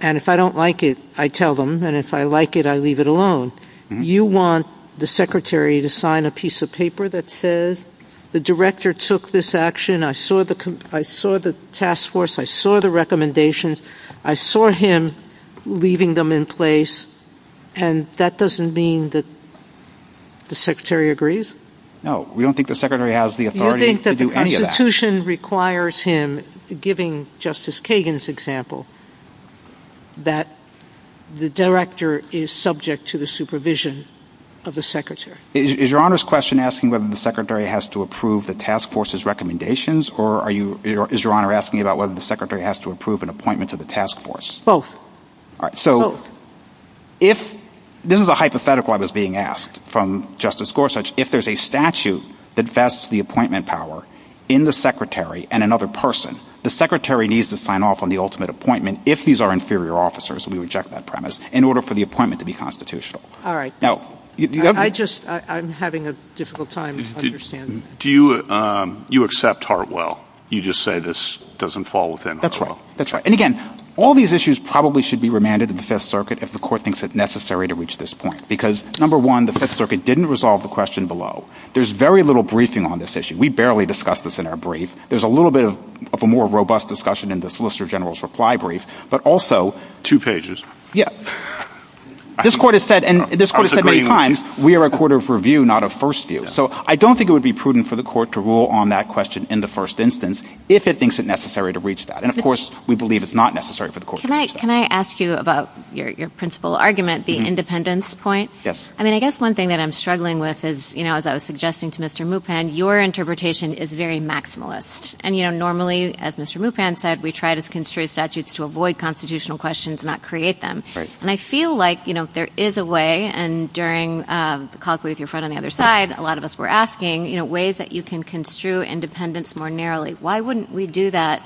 and if I don't like it, I tell them, and if I like it, I leave it alone. You want the secretary to sign a piece of paper that says, the director took this action, I saw the task force, I saw the recommendations, I saw him leaving them in place, and that doesn't mean that the secretary agrees? No, we don't think the secretary has the authority to do any of that. You think that the Constitution requires him, giving Justice Kagan's example, that the director is subject to the supervision of the secretary? Is Your Honor's question asking whether the secretary has to approve the task force's recommendations, or is Your Honor asking about whether the secretary has to approve an appointment to the task force? Both. This is a hypothetical I was being asked from Justice Gorsuch. If there's a statute that vests the appointment power in the secretary and another person, the secretary needs to sign off on the ultimate appointment if these are inferior officers, and we reject that premise, in order for the appointment to be constitutional. All right. I'm having a difficult time understanding this. You accept Hartwell? You just say this doesn't fall within Hartwell? That's right. And again, all these issues probably should be remanded in the Fifth Circuit if the Court thinks it necessary to reach this point, because, number one, the Fifth Circuit didn't resolve the question below. There's very little briefing on this issue. We barely discussed this in our brief. There's a little bit of a more robust discussion in the Solicitor General's reply brief, but also... Two pages. Yeah. This Court has said many times we are a court of review, not a first view. So I don't think it would be prudent for the Court to rule on that question in the first instance if it thinks it necessary to reach that. And, of course, we believe it's not necessary for the Court to reach that. Can I ask you about your principal argument, the independence point? Yes. I mean, I guess one thing that I'm struggling with is, you know, as I was suggesting to Mr. Mupan, your interpretation is very maximalist. And, you know, normally, as Mr. Mupan said, we try to construe statutes to avoid constitutional questions and not create them. And I feel like, you know, there is a way, and during the call with your friend on the other side, a lot of us were asking, you know, ways that you can construe independence more narrowly. Why wouldn't we do that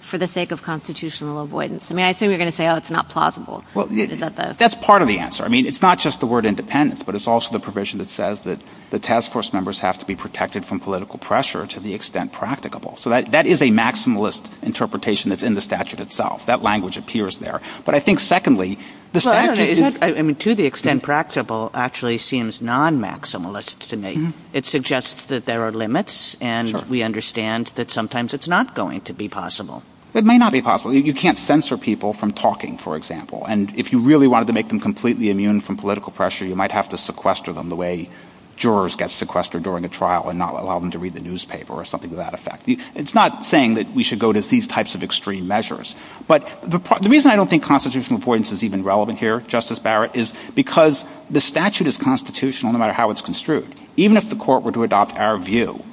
for the sake of constitutional avoidance? I mean, I assume you're going to say, oh, it's not plausible. Well, that's part of the answer. I mean, it's not just the word independence, but it's also the provision that says that the task force members have to be protected from political pressure to the extent practicable. So that is a maximalist interpretation that's in the statute itself. That language appears there. But I think, secondly, the statute is... I mean, to the extent practicable actually seems non-maximalist to me. It suggests that there are limits, and we understand that sometimes it's not going to be possible. It may not be possible. You can't censor people from talking, for example. And if you really wanted to make them completely immune from political pressure, you might have to sequester them the way jurors get sequestered during a trial and not allow them to read the newspaper or something to that effect. It's not saying that we should go to these types of extreme measures. But the reason I don't think constitutional avoidance is even relevant here, Justice Barrett, is because the statute is constitutional no matter how it's construed. Even if the court were to adopt our view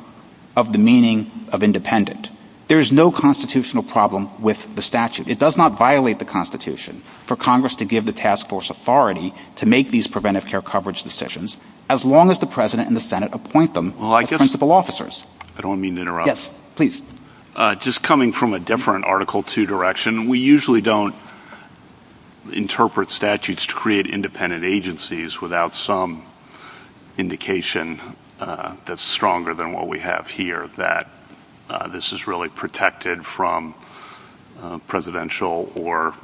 of the meaning of independent, there is no constitutional problem with the statute. It does not violate the Constitution for Congress to give the task force authority to make these preventive care coverage decisions as long as the president and the Senate appoint them as principal officers. I don't mean to interrupt. Yes, please. Just coming from a different Article 2 direction, we usually don't interpret statutes to create independent agencies without some indication that's stronger than what we have here, that this is really protected from presidential or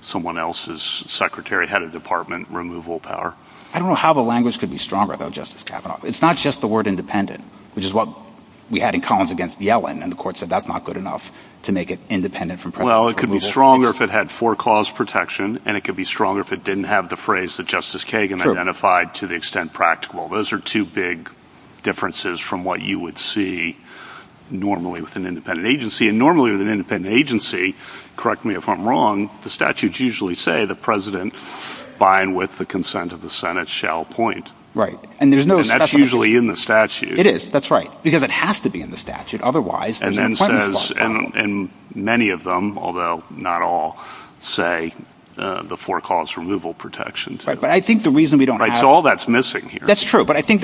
someone else's secretary, head of department removal power. I don't know how the language could be stronger about Justice Kavanaugh. It's not just the word independent, which is what we had in Collins against Yellen, and the court said that's not good enough to make it independent from presidential. Well, it could be stronger if it had foreclosed protection, and it could be stronger if it didn't have the phrase that Justice Kagan identified to the extent practical. Those are two big differences from what you would see normally with an independent agency. Normally with an independent agency, correct me if I'm wrong, the statutes usually say the president, by and with the consent of the Senate, shall appoint. Right. And that's usually in the statute. It is. That's right. Because it has to be in the statute. Otherwise, there's no prejudice about it. And many of them, although not all, say the foreclosed removal protection. Right, but I think the reason we don't have... Right, so all that's missing here. That's true, but I think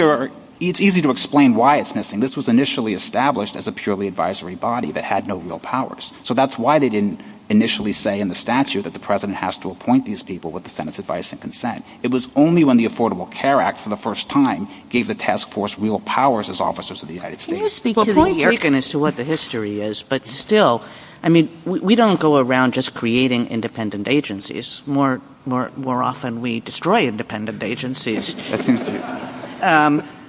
it's easy to explain why it's missing. This was initially established as a purely advisory body that had no real powers. So that's why they didn't initially say in the statute that the president has to appoint these people with the Senate's advice and consent. It was only when the Affordable Care Act, for the first time, gave the task force real powers as officers of the United States. Well, point taken as to what the history is, but still, I mean, we don't go around just creating independent agencies. More often, we destroy independent agencies.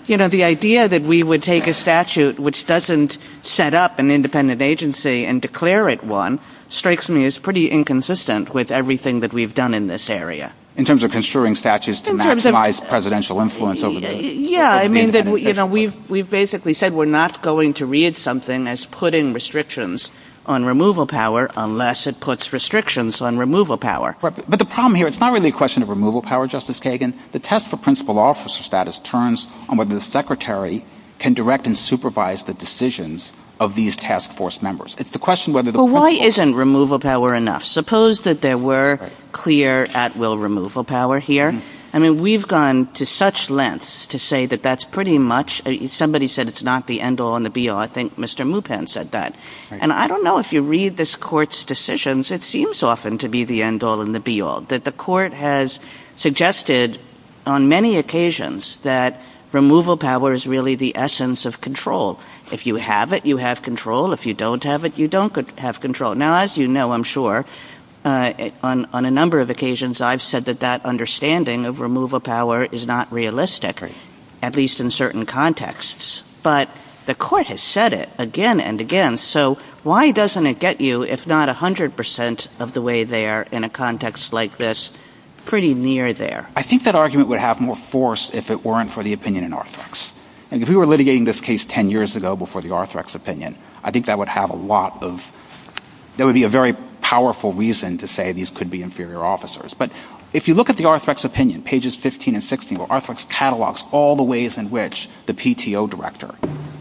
You know, the idea that we would take a statute which doesn't set up an independent agency and declare it one strikes me as pretty inconsistent with everything that we've done in this area. In terms of construing statutes to maximize presidential influence? Yeah, I mean, we've basically said we're not going to read something as putting restrictions on removal power unless it puts restrictions on removal power. But the problem here, it's not really a question of removal power, Justice Kagan. The test for principal officer status turns on whether the secretary can direct and supervise the decisions of these task force members. It's the question whether the principal officer… Well, why isn't removal power enough? Suppose that there were clear at-will removal power here. I mean, we've gone to such lengths to say that that's pretty much… Somebody said it's not the end-all and the be-all. I think Mr. Mupan said that. And I don't know if you read this court's decisions, it seems often to be the end-all and the be-all, that the court has suggested on many occasions that removal power is really the essence of control. If you have it, you have control. If you don't have it, you don't have control. Now, as you know, I'm sure, on a number of occasions, I've said that that understanding of removal power is not realistic, at least in certain contexts. But the court has said it again and again. So why doesn't it get you, if not 100% of the way there, in a context like this, pretty near there? I think that argument would have more force if it weren't for the opinion in Arthrex. And if we were litigating this case 10 years ago before the Arthrex opinion, I think that would have a lot of… That would be a very powerful reason to say these could be inferior officers. But if you look at the Arthrex opinion, pages 15 and 16, Arthrex catalogs all the ways in which the PTO director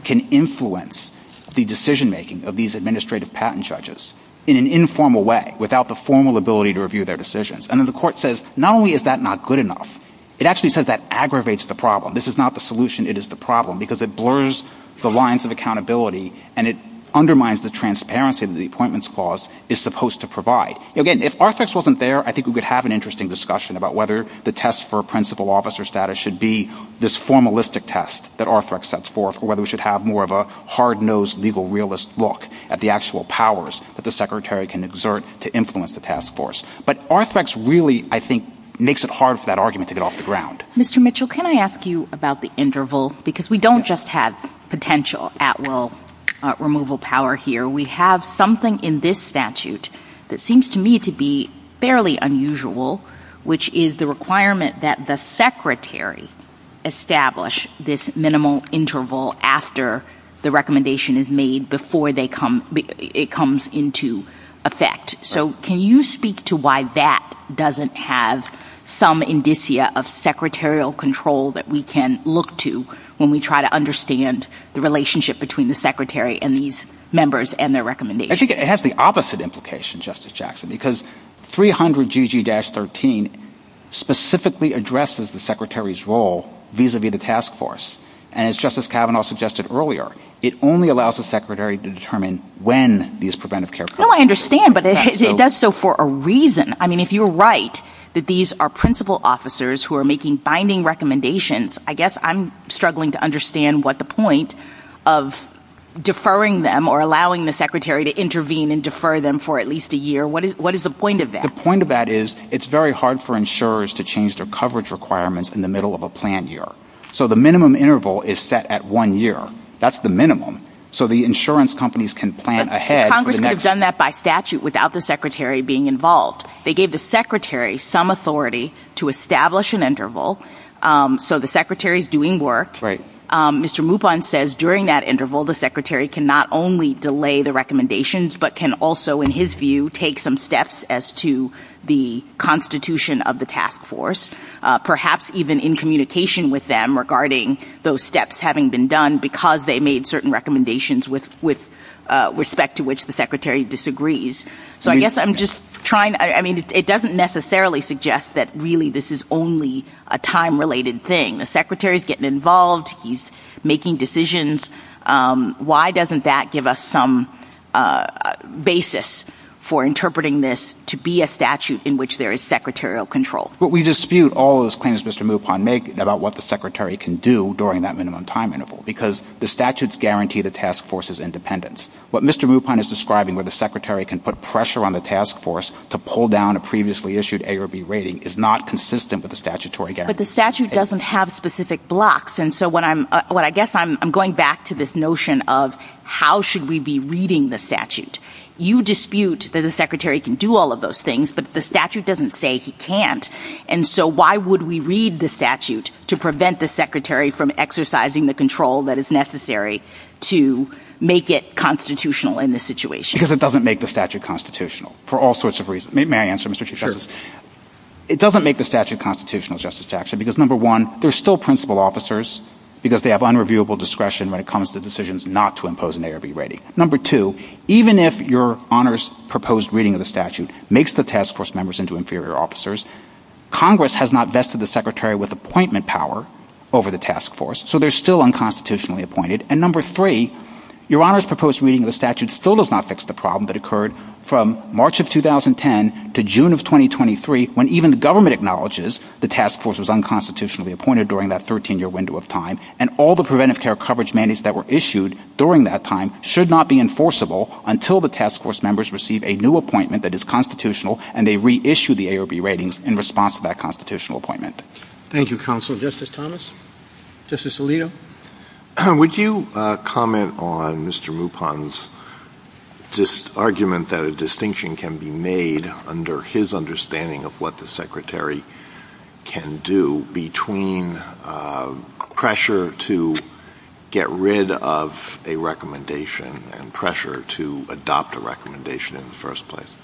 can influence the decision-making of these administrative patent judges in an informal way, without the formal ability to review their decisions. And then the court says, not only is that not good enough, it actually says that aggravates the problem. This is not the solution, it is the problem, because it blurs the lines of accountability and it undermines the transparency that the Appointments Clause is supposed to provide. Again, if Arthrex wasn't there, I think we could have an interesting discussion about whether the test for principal officer status should be this formalistic test that Arthrex sets forth, or whether we should have more of a hard-nosed, legal realist look at the actual powers that the secretary can exert to influence the task force. But Arthrex really, I think, makes it hard for that argument to get off the ground. Mr. Mitchell, can I ask you about the interval? Because we don't just have potential at-will removal power here. We have something in this statute that seems to me to be fairly unusual, which is the requirement that the secretary establish this minimal interval after the recommendation is made before it comes into effect. So can you speak to why that doesn't have some indicia of secretarial control that we can look to when we try to understand the relationship between the secretary and these members and their recommendations? I think it has the opposite implication, Justice Jackson, because 300GG-13 specifically addresses the secretary's role vis-a-vis the task force. And as Justice Kavanaugh suggested earlier, it only allows the secretary to determine when these preventive care programs are in effect. No, I understand, but it does so for a reason. I mean, if you're right that these are principal officers who are making binding recommendations, I guess I'm struggling to understand what the point of deferring them or allowing the secretary to intervene and defer them for at least a year, what is the point of that? The point of that is it's very hard for insurers to change their coverage requirements in the middle of a planned year. So the minimum interval is set at one year. That's the minimum. So the insurance companies can plan ahead. Congress could have done that by statute without the secretary being involved. They gave the secretary some authority to establish an interval. So the secretary is doing work. Mr. Moubon says during that interval the secretary can not only delay the recommendations but can also, in his view, take some steps as to the constitution of the task force, perhaps even in communication with them regarding those steps having been done because they made certain recommendations with respect to which the secretary disagrees. So I guess I'm just trying to ---- I mean, it doesn't necessarily suggest that really this is only a time-related thing. The secretary is getting involved. He's making decisions. Why doesn't that give us some basis for interpreting this to be a statute in which there is secretarial control? Well, we dispute all those claims Mr. Moubon made about what the secretary can do during that minimum time interval because the statutes guarantee the task force's independence. What Mr. Moubon is describing where the secretary can put pressure on the task force to pull down a previously issued A or B rating is not consistent with the statutory guarantee. But the statute doesn't have specific blocks. And so I guess I'm going back to this notion of how should we be reading the statute. You dispute that the secretary can do all of those things, but the statute doesn't say he can't. And so why would we read the statute to prevent the secretary from exercising the control that is necessary to make it constitutional in this situation? Because it doesn't make the statute constitutional for all sorts of reasons. May I answer, Mr. Chief Justice? Sure. It doesn't make the statute constitutional, Justice Jackson, because number one, there are still principal officers because they have unreviewable discretion when it comes to decisions not to impose an A or B rating. Number two, even if your Honor's proposed reading of the statute makes the task force members into inferior officers, Congress has not vested the secretary with appointment power over the task force, so they're still unconstitutionally appointed. And number three, your Honor's proposed reading of the statute still does not fix the problem that occurred from March of 2010 to June of 2023 when even the government acknowledges the task force was unconstitutionally appointed during that 13-year window of time, and all the preventive care coverage mandates that were issued during that time should not be enforceable until the task force members receive a new appointment that is constitutional and they reissue the A or B ratings in response to that constitutional appointment. Thank you, Counsel. Justice Thomas? Justice Alito? Would you comment on Mr. Mupon's argument that a distinction can be made under his understanding of what the secretary can do between pressure to get rid of a recommendation and pressure to adopt a recommendation in the first place?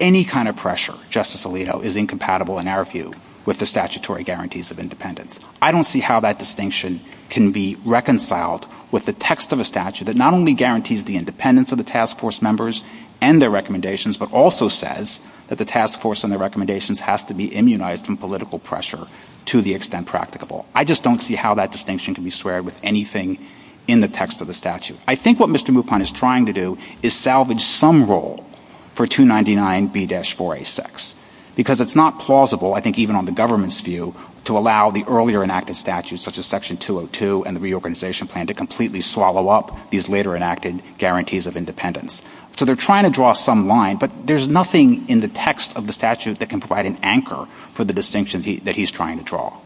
Any kind of pressure, Justice Alito, is incompatible in our view with the statutory guarantees of independence. I don't see how that distinction can be reconciled with the text of a statute that not only guarantees the independence of the task force members and their recommendations, but also says that the task force and their recommendations have to be immunized from political pressure to the extent practicable. I just don't see how that distinction can be squared with anything in the text of the statute. I think what Mr. Mupon is trying to do is salvage some role for 299B-4A6 because it's not plausible, I think even on the government's view, to allow the earlier enacted statutes, such as Section 202 and the reorganization plan, to completely swallow up these later enacted guarantees of independence. So they're trying to draw some line, but there's nothing in the text of the statute that can provide an anchor for the distinction that he's trying to draw.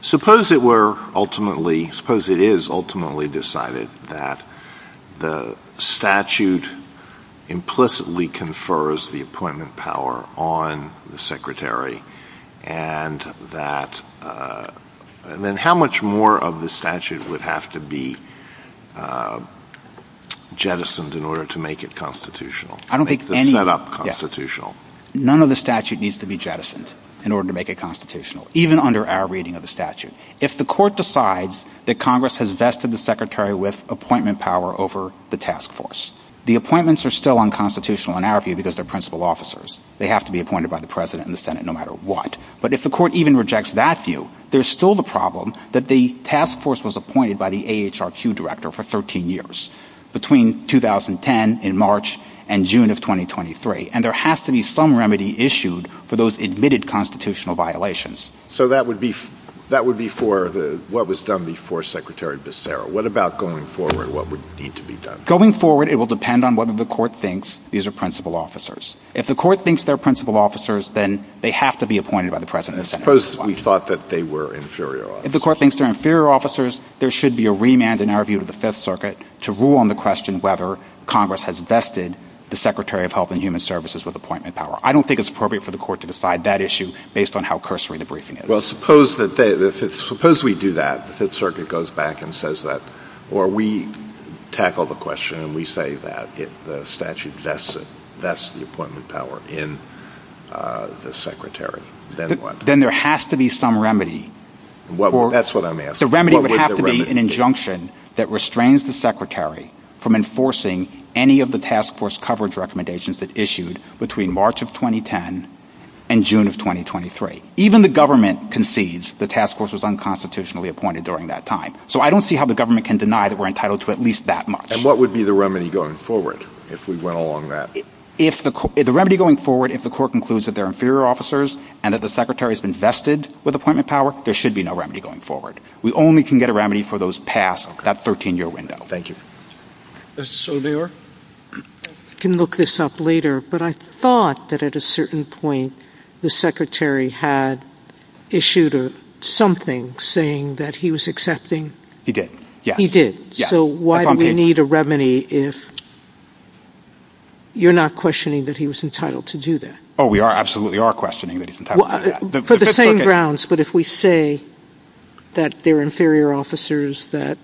Suppose it were ultimately, suppose it is ultimately decided that the statute implicitly confers the appointment power on the secretary and then how much more of the statute would have to be jettisoned in order to make it constitutional? None of the statute needs to be jettisoned in order to make it constitutional, even under our reading of the statute. If the court decides that Congress has vested the secretary with appointment power over the task force, the appointments are still unconstitutional in our view because they're principal officers. They have to be appointed by the president and the Senate no matter what. But if the court even rejects that view, there's still the problem that the task force was appointed by the AHRQ director for 13 years, between 2010 in March and June of 2023, and there has to be some remedy issued for those admitted constitutional violations. So that would be for what was done before Secretary Becerra. What about going forward, what would need to be done? Going forward, it will depend on whether the court thinks these are principal officers. If the court thinks they're principal officers, then they have to be appointed by the president. Suppose we thought that they were inferior officers. If the court thinks they're inferior officers, there should be a remand in our view to the Fifth Circuit to rule on the question whether Congress has vested the secretary of Health and Human Services with appointment power. I don't think it's appropriate for the court to decide that issue based on how cursory the briefing is. Well, suppose we do that, the Fifth Circuit goes back and says that, or we tackle the question and we say that the statute vests the appointment power in the secretary. Then what? Then there has to be some remedy. That's what I'm asking. The remedy would have to be an injunction that restrains the secretary from enforcing any of the task force coverage recommendations that's issued between March of 2010 and June of 2023. Even the government concedes the task force was unconstitutionally appointed during that time. So I don't see how the government can deny that we're entitled to at least that much. And what would be the remedy going forward if we went along that? The remedy going forward, if the court concludes that they're inferior officers and that the secretary has been vested with appointment power, there should be no remedy going forward. We only can get a remedy for those past that 13-year window. Thank you. Mr. Sobier? I can look this up later, but I thought that at a certain point the secretary had issued something saying that he was accepting. He did, yes. He did. So why do we need a remedy if you're not questioning that he was entitled to do that? Oh, we absolutely are questioning that he's entitled to do that. For the same grounds, but if we say that they're inferior officers that...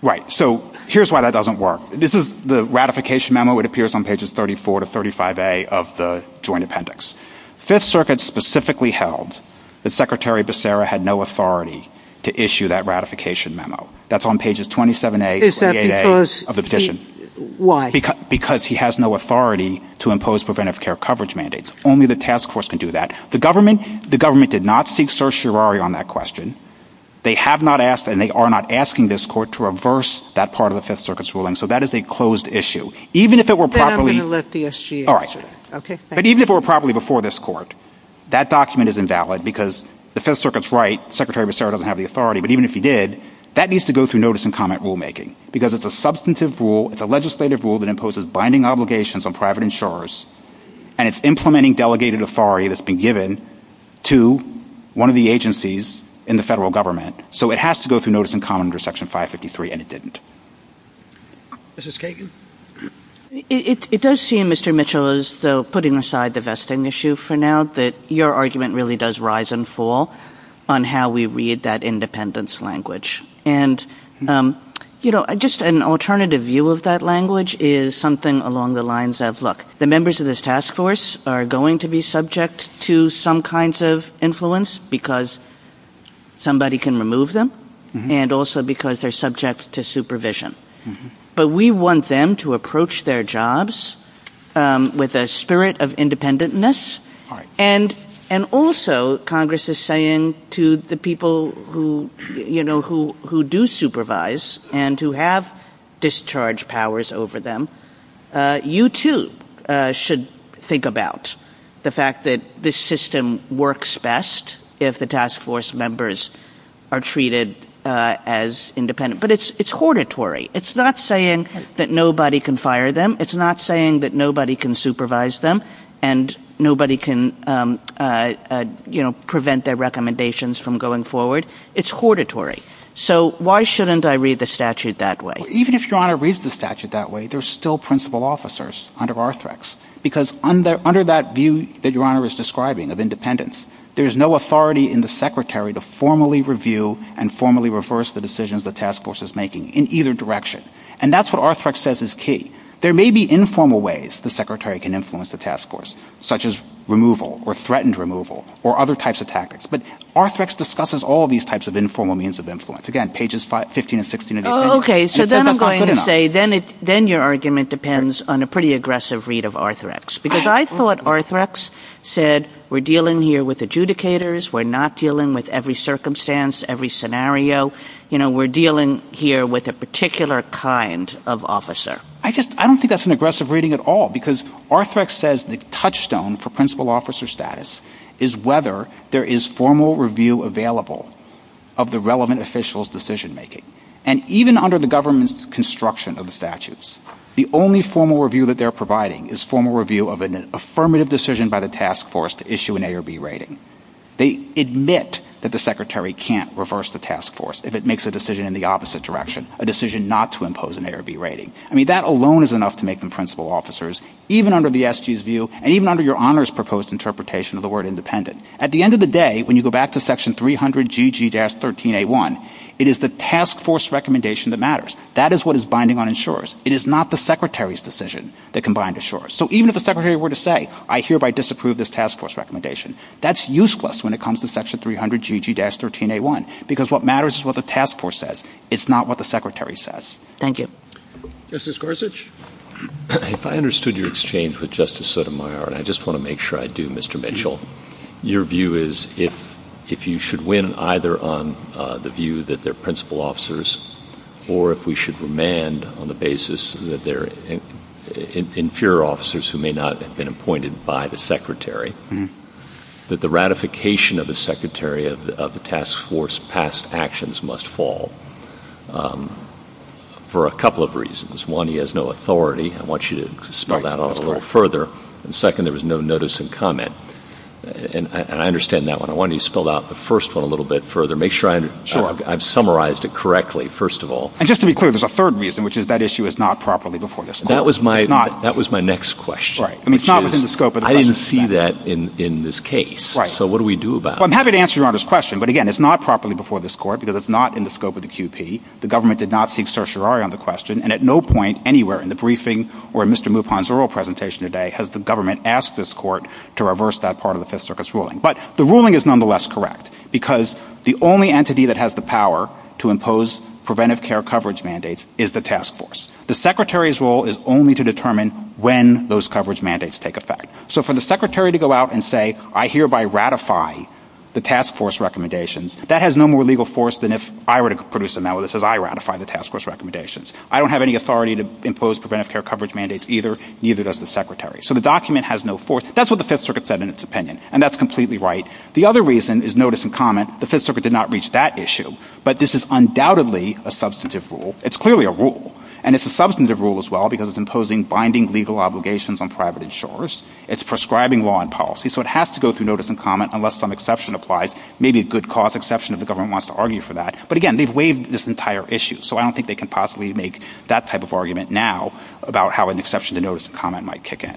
Right. So here's why that doesn't work. This is the ratification memo. It appears on pages 34 to 35A of the joint appendix. Fifth Circuit specifically held that Secretary Becerra had no authority to issue that ratification memo. That's on pages 27A and 28A of the petition. Is that because he... Why? Because he has no authority to impose preventive care coverage mandates. Only the task force can do that. The government did not seek certiorari on that question. They have not asked, and they are not asking this court to reverse that part of the Fifth Circuit's ruling. So that is a closed issue. Even if it were properly... Then I'm going to let the SGA answer. But even if it were properly before this court, that document is invalid because the Fifth Circuit's right. Secretary Becerra doesn't have the authority, but even if he did, that needs to go through notice and comment rulemaking because it's a substantive rule, it's a legislative rule that imposes binding obligations on private insurers, and it's implementing delegated authority that's been given to one of the agencies in the federal government. So it has to go through notice and comment under Section 553, and it didn't. Mrs. Kagan? It does seem, Mr. Mitchell, as though, putting aside the vesting issue for now, that your argument really does rise and fall on how we read that independence language. And, you know, just an alternative view of that language is something along the lines of, look, the members of this task force are going to be subject to some kinds of influence because somebody can remove them, and also because they're subject to supervision. But we want them to approach their jobs with a spirit of independentness. And also, Congress is saying to the people who, you know, who do supervise and who have discharge powers over them, you too should think about the fact that this system works best if the task force members are treated as independent. But it's hortatory. It's not saying that nobody can fire them. It's not saying that nobody can supervise them and nobody can, you know, prevent their recommendations from going forward. It's hortatory. So why shouldn't I read the statute that way? Even if Your Honor reads the statute that way, there's still principal officers under Arthrex. Because under that view that Your Honor is describing of independence, there's no authority in the Secretary to formally review and formally reverse the decisions the task force is making in either direction. And that's what Arthrex says is key. There may be informal ways the Secretary can influence the task force, such as removal or threatened removal or other types of tactics. But Arthrex discusses all of these types of informal means of influence. Again, pages 15 and 16 and 18. Okay, so then I'm going to say, then your argument depends on a pretty aggressive read of Arthrex. Because I thought Arthrex said, we're dealing here with adjudicators. We're not dealing with every circumstance, every scenario. You know, we're dealing here with a particular kind of officer. I just, I don't think that's an aggressive reading at all. Because Arthrex says the touchstone for principal officer status is whether there is formal review available of the relevant official's decision making. And even under the government's construction of the statutes, the only formal review that they're providing is formal review of an affirmative decision by the task force to issue an A or B rating. They admit that the Secretary can't reverse the task force if it makes a decision in the opposite direction, a decision not to impose an A or B rating. I mean, that alone is enough to make them principal officers, even under the SG's view, and even under your Honor's proposed interpretation of the word independent. At the end of the day, when you go back to section 300GG-13A1, it is the task force recommendation that matters. That is what is binding on insurers. It is not the Secretary's decision that can bind insurers. So even if the Secretary were to say, I hereby disapprove this task force recommendation, that's useless when it comes to section 300GG-13A1. Because what matters is what the task force says. It's not what the Secretary says. Thank you. Justice Gorsuch? If I understood your exchange with Justice Sotomayor, and I just want to make sure I do, Mr. Mitchell, your view is if you should win either on the view that they're principal officers or if we should remand on the basis that they're inferior officers who may not have been appointed by the Secretary, that the ratification of the Secretary of the task force past actions must fall for a couple of reasons. One, he has no authority. I want you to spell that out a little further. And second, there was no notice and comment. And I understand that one. I want you to spell out the first one a little bit further. Make sure I've summarized it correctly, first of all. And just to be clear, there's a third reason, which is that issue is not properly before you. That was my next question. I didn't see that in this case. So what do we do about it? I'm happy to answer your Honor's question. But again, it's not properly before this Court because it's not in the scope of the QP. The government did not seek certiorari on the question. And at no point anywhere in the briefing or in Mr. Mupon's oral presentation today has the government asked this Court to reverse that part of the Fifth Circuit's ruling. But the ruling is nonetheless correct because the only entity that has the power to impose preventive care coverage mandates is the task force. The Secretary's role is only to determine when those coverage mandates take effect. So for the Secretary to go out and say, I hereby ratify the task force recommendations, that has no more legal force than if I were to produce a notice that says I ratify the task force recommendations. I don't have any authority to impose preventive care coverage mandates either. Neither does the Secretary. So the document has no force. That's what the Fifth Circuit said in its opinion. And that's completely right. The other reason is notice and comment. The Fifth Circuit did not reach that issue. But this is undoubtedly a substantive rule. It's clearly a rule. And it's a substantive rule as well because it's imposing binding legal obligations on private insurers. It's prescribing law and policy. So it has to go through notice and comment unless some exception applies. Maybe a good cause exception if the government wants to argue for that. But again, they've waived this entire issue. So I don't think they can possibly make that type of argument now about how an exception to notice and comment might kick in.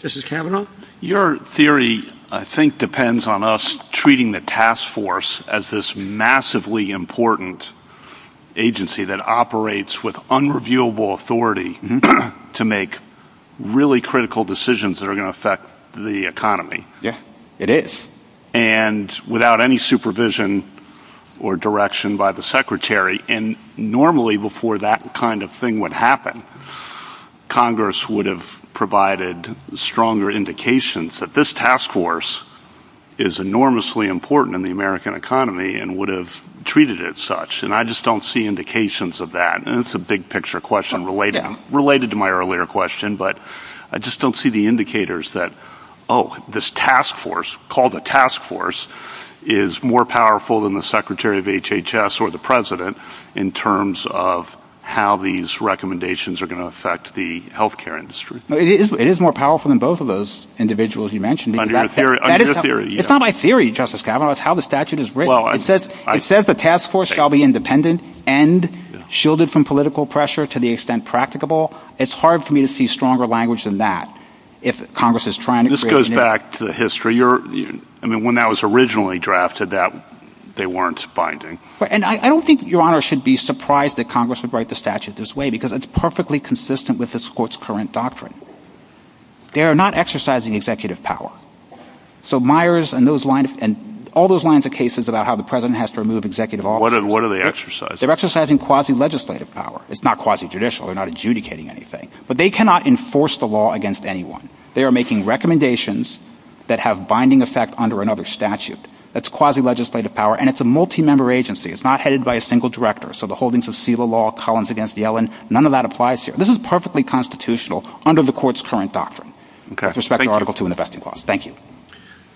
This is Kavanaugh. Your theory, I think, depends on us treating the task force as this massively important agency that operates with unreviewable authority to make really critical decisions that are going to affect the economy. Yes, it is. And without any supervision or direction by the secretary. And normally before that kind of thing would happen, Congress would have provided stronger indications that this task force is enormously important in the American economy and would have treated it such. And I just don't see indications of that. And it's a big picture question related to my earlier question. But I just don't see the indicators that, oh, this task force, called the task force, is more powerful than the secretary of HHS or the president in terms of how these recommendations are going to affect the health care industry. It is more powerful than both of those individuals you mentioned. It's not my theory, Justice Kavanaugh. It's how the statute is written. It says the task force shall be independent and shielded from political pressure to the extent practicable. It's hard for me to see stronger language than that if Congress is trying to create a new... This goes back to the history. I mean, when that was originally drafted, they weren't binding. And I don't think Your Honor should be surprised that Congress would write the statute this way because it's perfectly consistent with this court's current doctrine. They are not exercising executive power. So Myers and all those lines of cases about how the president has to remove executive office... What are they exercising? They're exercising quasi-legislative power. It's not quasi-judicial. They're not adjudicating anything. But they cannot enforce the law against anyone. They are making recommendations that have binding effect under another statute. That's quasi-legislative power, and it's a multi-member agency. It's not headed by a single director. So the holdings of SILA law, Collins against Yellen, none of that applies here. This is perfectly constitutional under the court's current doctrine with respect to Article II and the vesting clause. Thank you.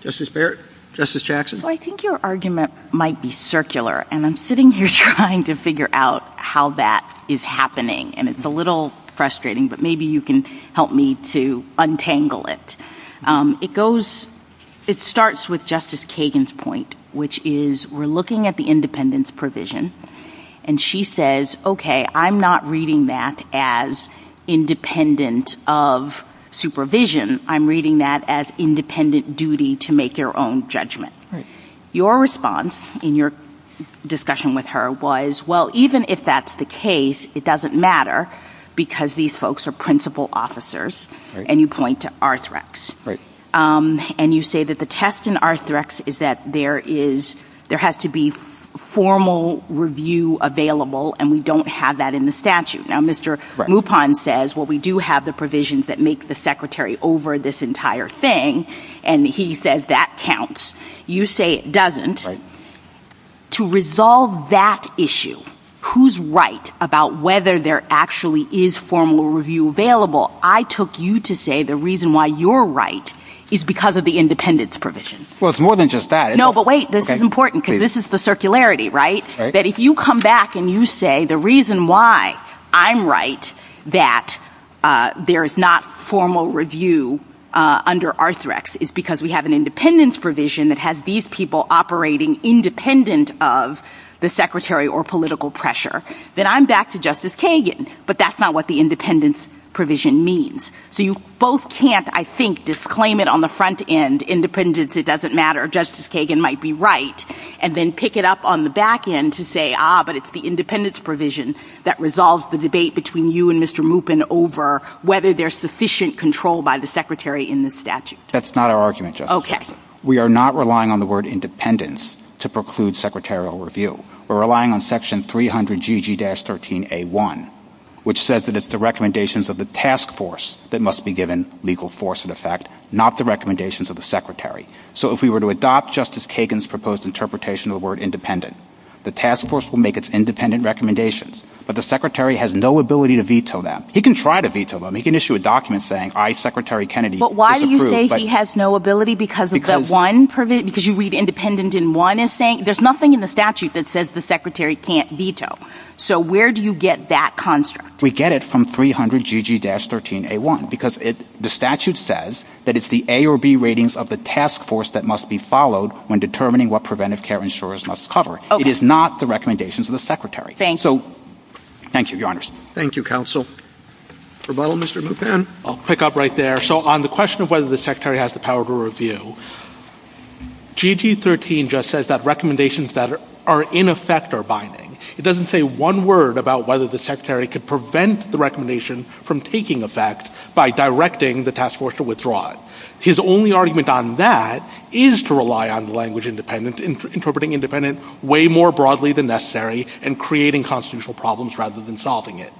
Justice Barrett? Justice Jackson? So I think your argument might be circular, and I'm sitting here trying to figure out how that is happening. And it's a little frustrating, but maybe you can help me to untangle it. It goes – it starts with Justice Kagan's point, which is we're looking at the independence provision. And she says, okay, I'm not reading that as independent of supervision. I'm reading that as independent duty to make their own judgment. Your response in your discussion with her was, well, even if that's the case, it doesn't matter because these folks are principal officers. And you point to Arthrex. And you say that the test in Arthrex is that there is – there has to be formal review available, and we don't have that in the statute. Now, Mr. Mupon says, well, we do have the provisions that make the secretary over this entire thing, and he says that counts. You say it doesn't. To resolve that issue, who's right about whether there actually is formal review available, I took you to say the reason why you're right is because of the independence provision. Well, it's more than just that. No, but wait. This is important because this is the circularity, right? That if you come back and you say the reason why I'm right that there is not formal review under Arthrex is because we have an independence provision that has these people operating independent of the secretary or political pressure, then I'm back to Justice Kagan. But that's not what the independence provision means. So you both can't, I think, disclaim it on the front end. Independence, it doesn't matter. Justice Kagan might be right, and then pick it up on the back end to say, ah, but it's the independence provision that resolves the debate between you and Mr. Mupon over whether there's sufficient control by the secretary in the statute. That's not our argument, Justice. Okay. We are not relying on the word independence to preclude secretarial review. We're relying on section 300GG-13A1, which says that it's the recommendations of the task force that must be given legal force of effect, not the recommendations of the secretary. So if we were to adopt Justice Kagan's proposed interpretation of the word independent, the task force will make its independent recommendations. But the secretary has no ability to veto them. He can try to veto them. He can issue a document saying, I, Secretary Kennedy, disapprove. But why do you say he has no ability because you read independent in one? There's nothing in the statute that says the secretary can't veto. So where do you get that construct? We get it from 300GG-13A1 because the statute says that it's the A or B ratings of the task force that must be followed when determining what preventive care insurers must cover. It is not the recommendations of the secretary. Thank you. Thank you, Your Honors. Thank you, Counsel. Mr. Mupon? I'll pick up right there. So on the question of whether the secretary has the power to review, GG-13 just says that recommendations that are in effect are binding. It doesn't say one word about whether the secretary could prevent the recommendation from taking effect by directing the task force to withdraw it. His only argument on that is to rely on the language independent, interpreting independent way more broadly than necessary, and creating constitutional problems rather than solving it.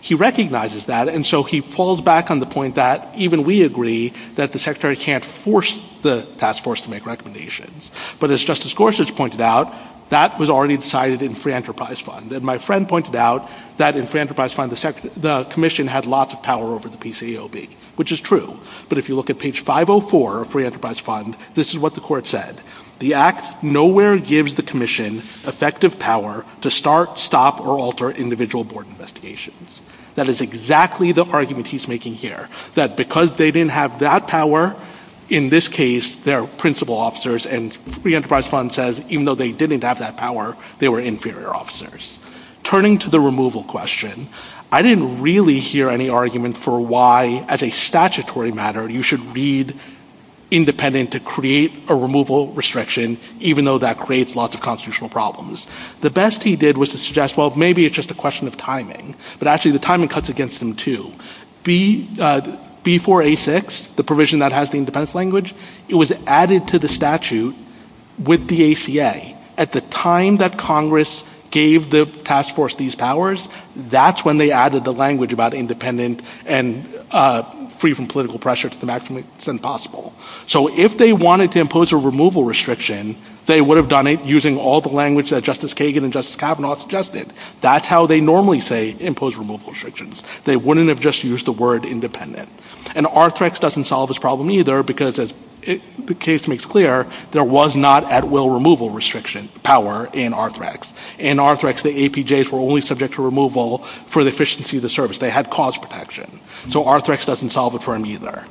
He recognizes that, and so he falls back on the point that even we agree that the secretary can't force the task force to make recommendations. But as Justice Gorsuch pointed out, that was already decided in free enterprise fund. And my friend pointed out that in free enterprise fund, the commission had lots of power over the PCAOB, which is true. But if you look at page 504 of free enterprise fund, this is what the court said. The act nowhere gives the commission effective power to start, stop, or alter individual board investigations. That is exactly the argument he's making here, that because they didn't have that power, in this case, they're principal officers, and free enterprise fund says even though they didn't have that power, they were inferior officers. Turning to the removal question, I didn't really hear any argument for why, as a statutory matter, you should read independent to create a removal restriction, even though that creates lots of constitutional problems. The best he did was to suggest, well, maybe it's just a question of timing. But actually, the timing cuts against them, too. Before A6, the provision that has the independent language, it was added to the statute with the ACA. At the time that Congress gave the task force these powers, that's when they added the language about independent and free from political pressure to the maximum extent possible. So if they wanted to impose a removal restriction, they would have done it using all the language that Justice Kagan and Justice Kavanaugh suggested. That's how they normally say impose removal restrictions. They wouldn't have just used the word independent. And Arthrex doesn't solve this problem either because, as the case makes clear, there was not at will removal restriction power in Arthrex. In Arthrex, the APJs were only subject to removal for the efficiency of the service. They had cause protection. So Arthrex doesn't solve it for them either.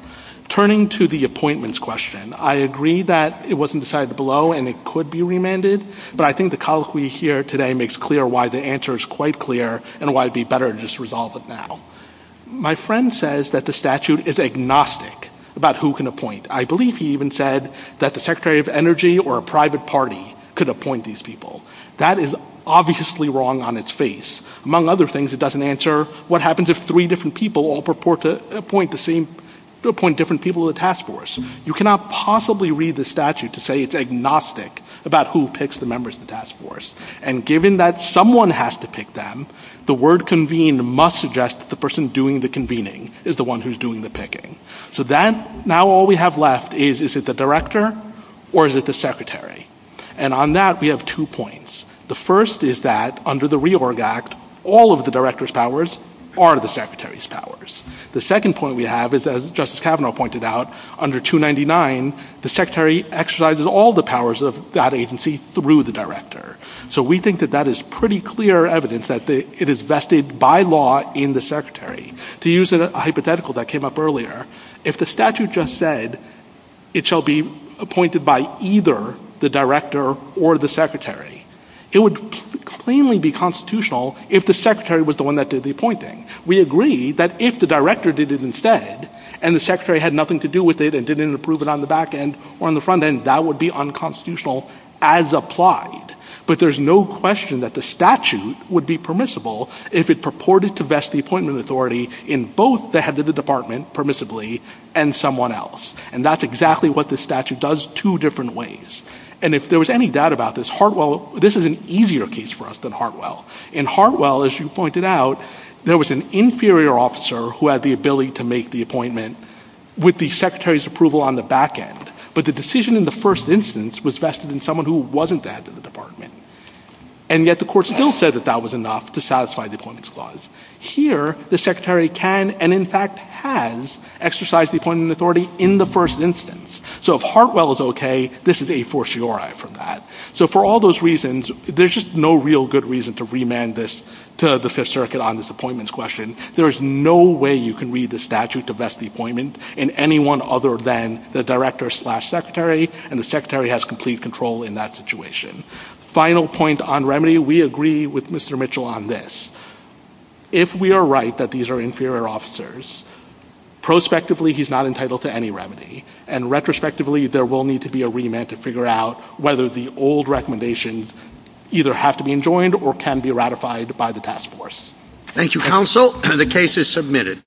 Turning to the appointments question, I agree that it wasn't decided below and it could be remanded, but I think the colloquy here today makes clear why the answer is quite clear and why it would be better to just resolve it now. My friend says that the statute is agnostic about who can appoint. I believe he even said that the Secretary of Energy or a private party could appoint these people. That is obviously wrong on its face. Among other things, it doesn't answer what happens if three different people all purport to appoint different people to the task force. You cannot possibly read the statute to say it's agnostic about who picks the members of the task force. And given that someone has to pick them, the word convened must suggest that the person doing the convening is the one who's doing the picking. So now all we have left is, is it the director or is it the secretary? And on that, we have two points. The first is that under the RE-ORG Act, all of the director's powers are the secretary's powers. The second point we have is, as Justice Kavanaugh pointed out, under 299, the secretary exercises all the powers of that agency through the director. So we think that that is pretty clear evidence that it is vested by law in the secretary. To use a hypothetical that came up earlier, if the statute just said it shall be appointed by either the director or the secretary, it would plainly be constitutional if the secretary was the one that did the appointing. We agree that if the director did it instead, and the secretary had nothing to do with it and didn't approve it on the back end or on the front end, that would be unconstitutional as applied. But there's no question that the statute would be permissible if it purported to vest the appointment authority in both the head of the department, permissibly, and someone else. And that's exactly what the statute does two different ways. And if there was any doubt about this, Hartwell, this is an easier case for us than Hartwell. In Hartwell, as you pointed out, there was an inferior officer who had the ability to make the appointment with the secretary's approval on the back end. But the decision in the first instance was vested in someone who wasn't the head of the department. And yet the court still said that that was enough to satisfy the appointment clause. Here, the secretary can, and in fact has, exercised the appointment authority in the first instance. So if Hartwell is okay, this is a fortiori from that. So for all those reasons, there's just no real good reason to remand this to the Fifth Circuit on this appointments question. There is no way you can read the statute to vest the appointment in anyone other than the director slash secretary, and the secretary has complete control in that situation. Final point on remedy, we agree with Mr. Mitchell on this. If we are right that these are inferior officers, prospectively, he's not entitled to any remedy. And retrospectively, there will need to be a remand to figure out whether the old recommendations either have to be enjoined or can be ratified by the task force. Thank you, counsel. The case is submitted.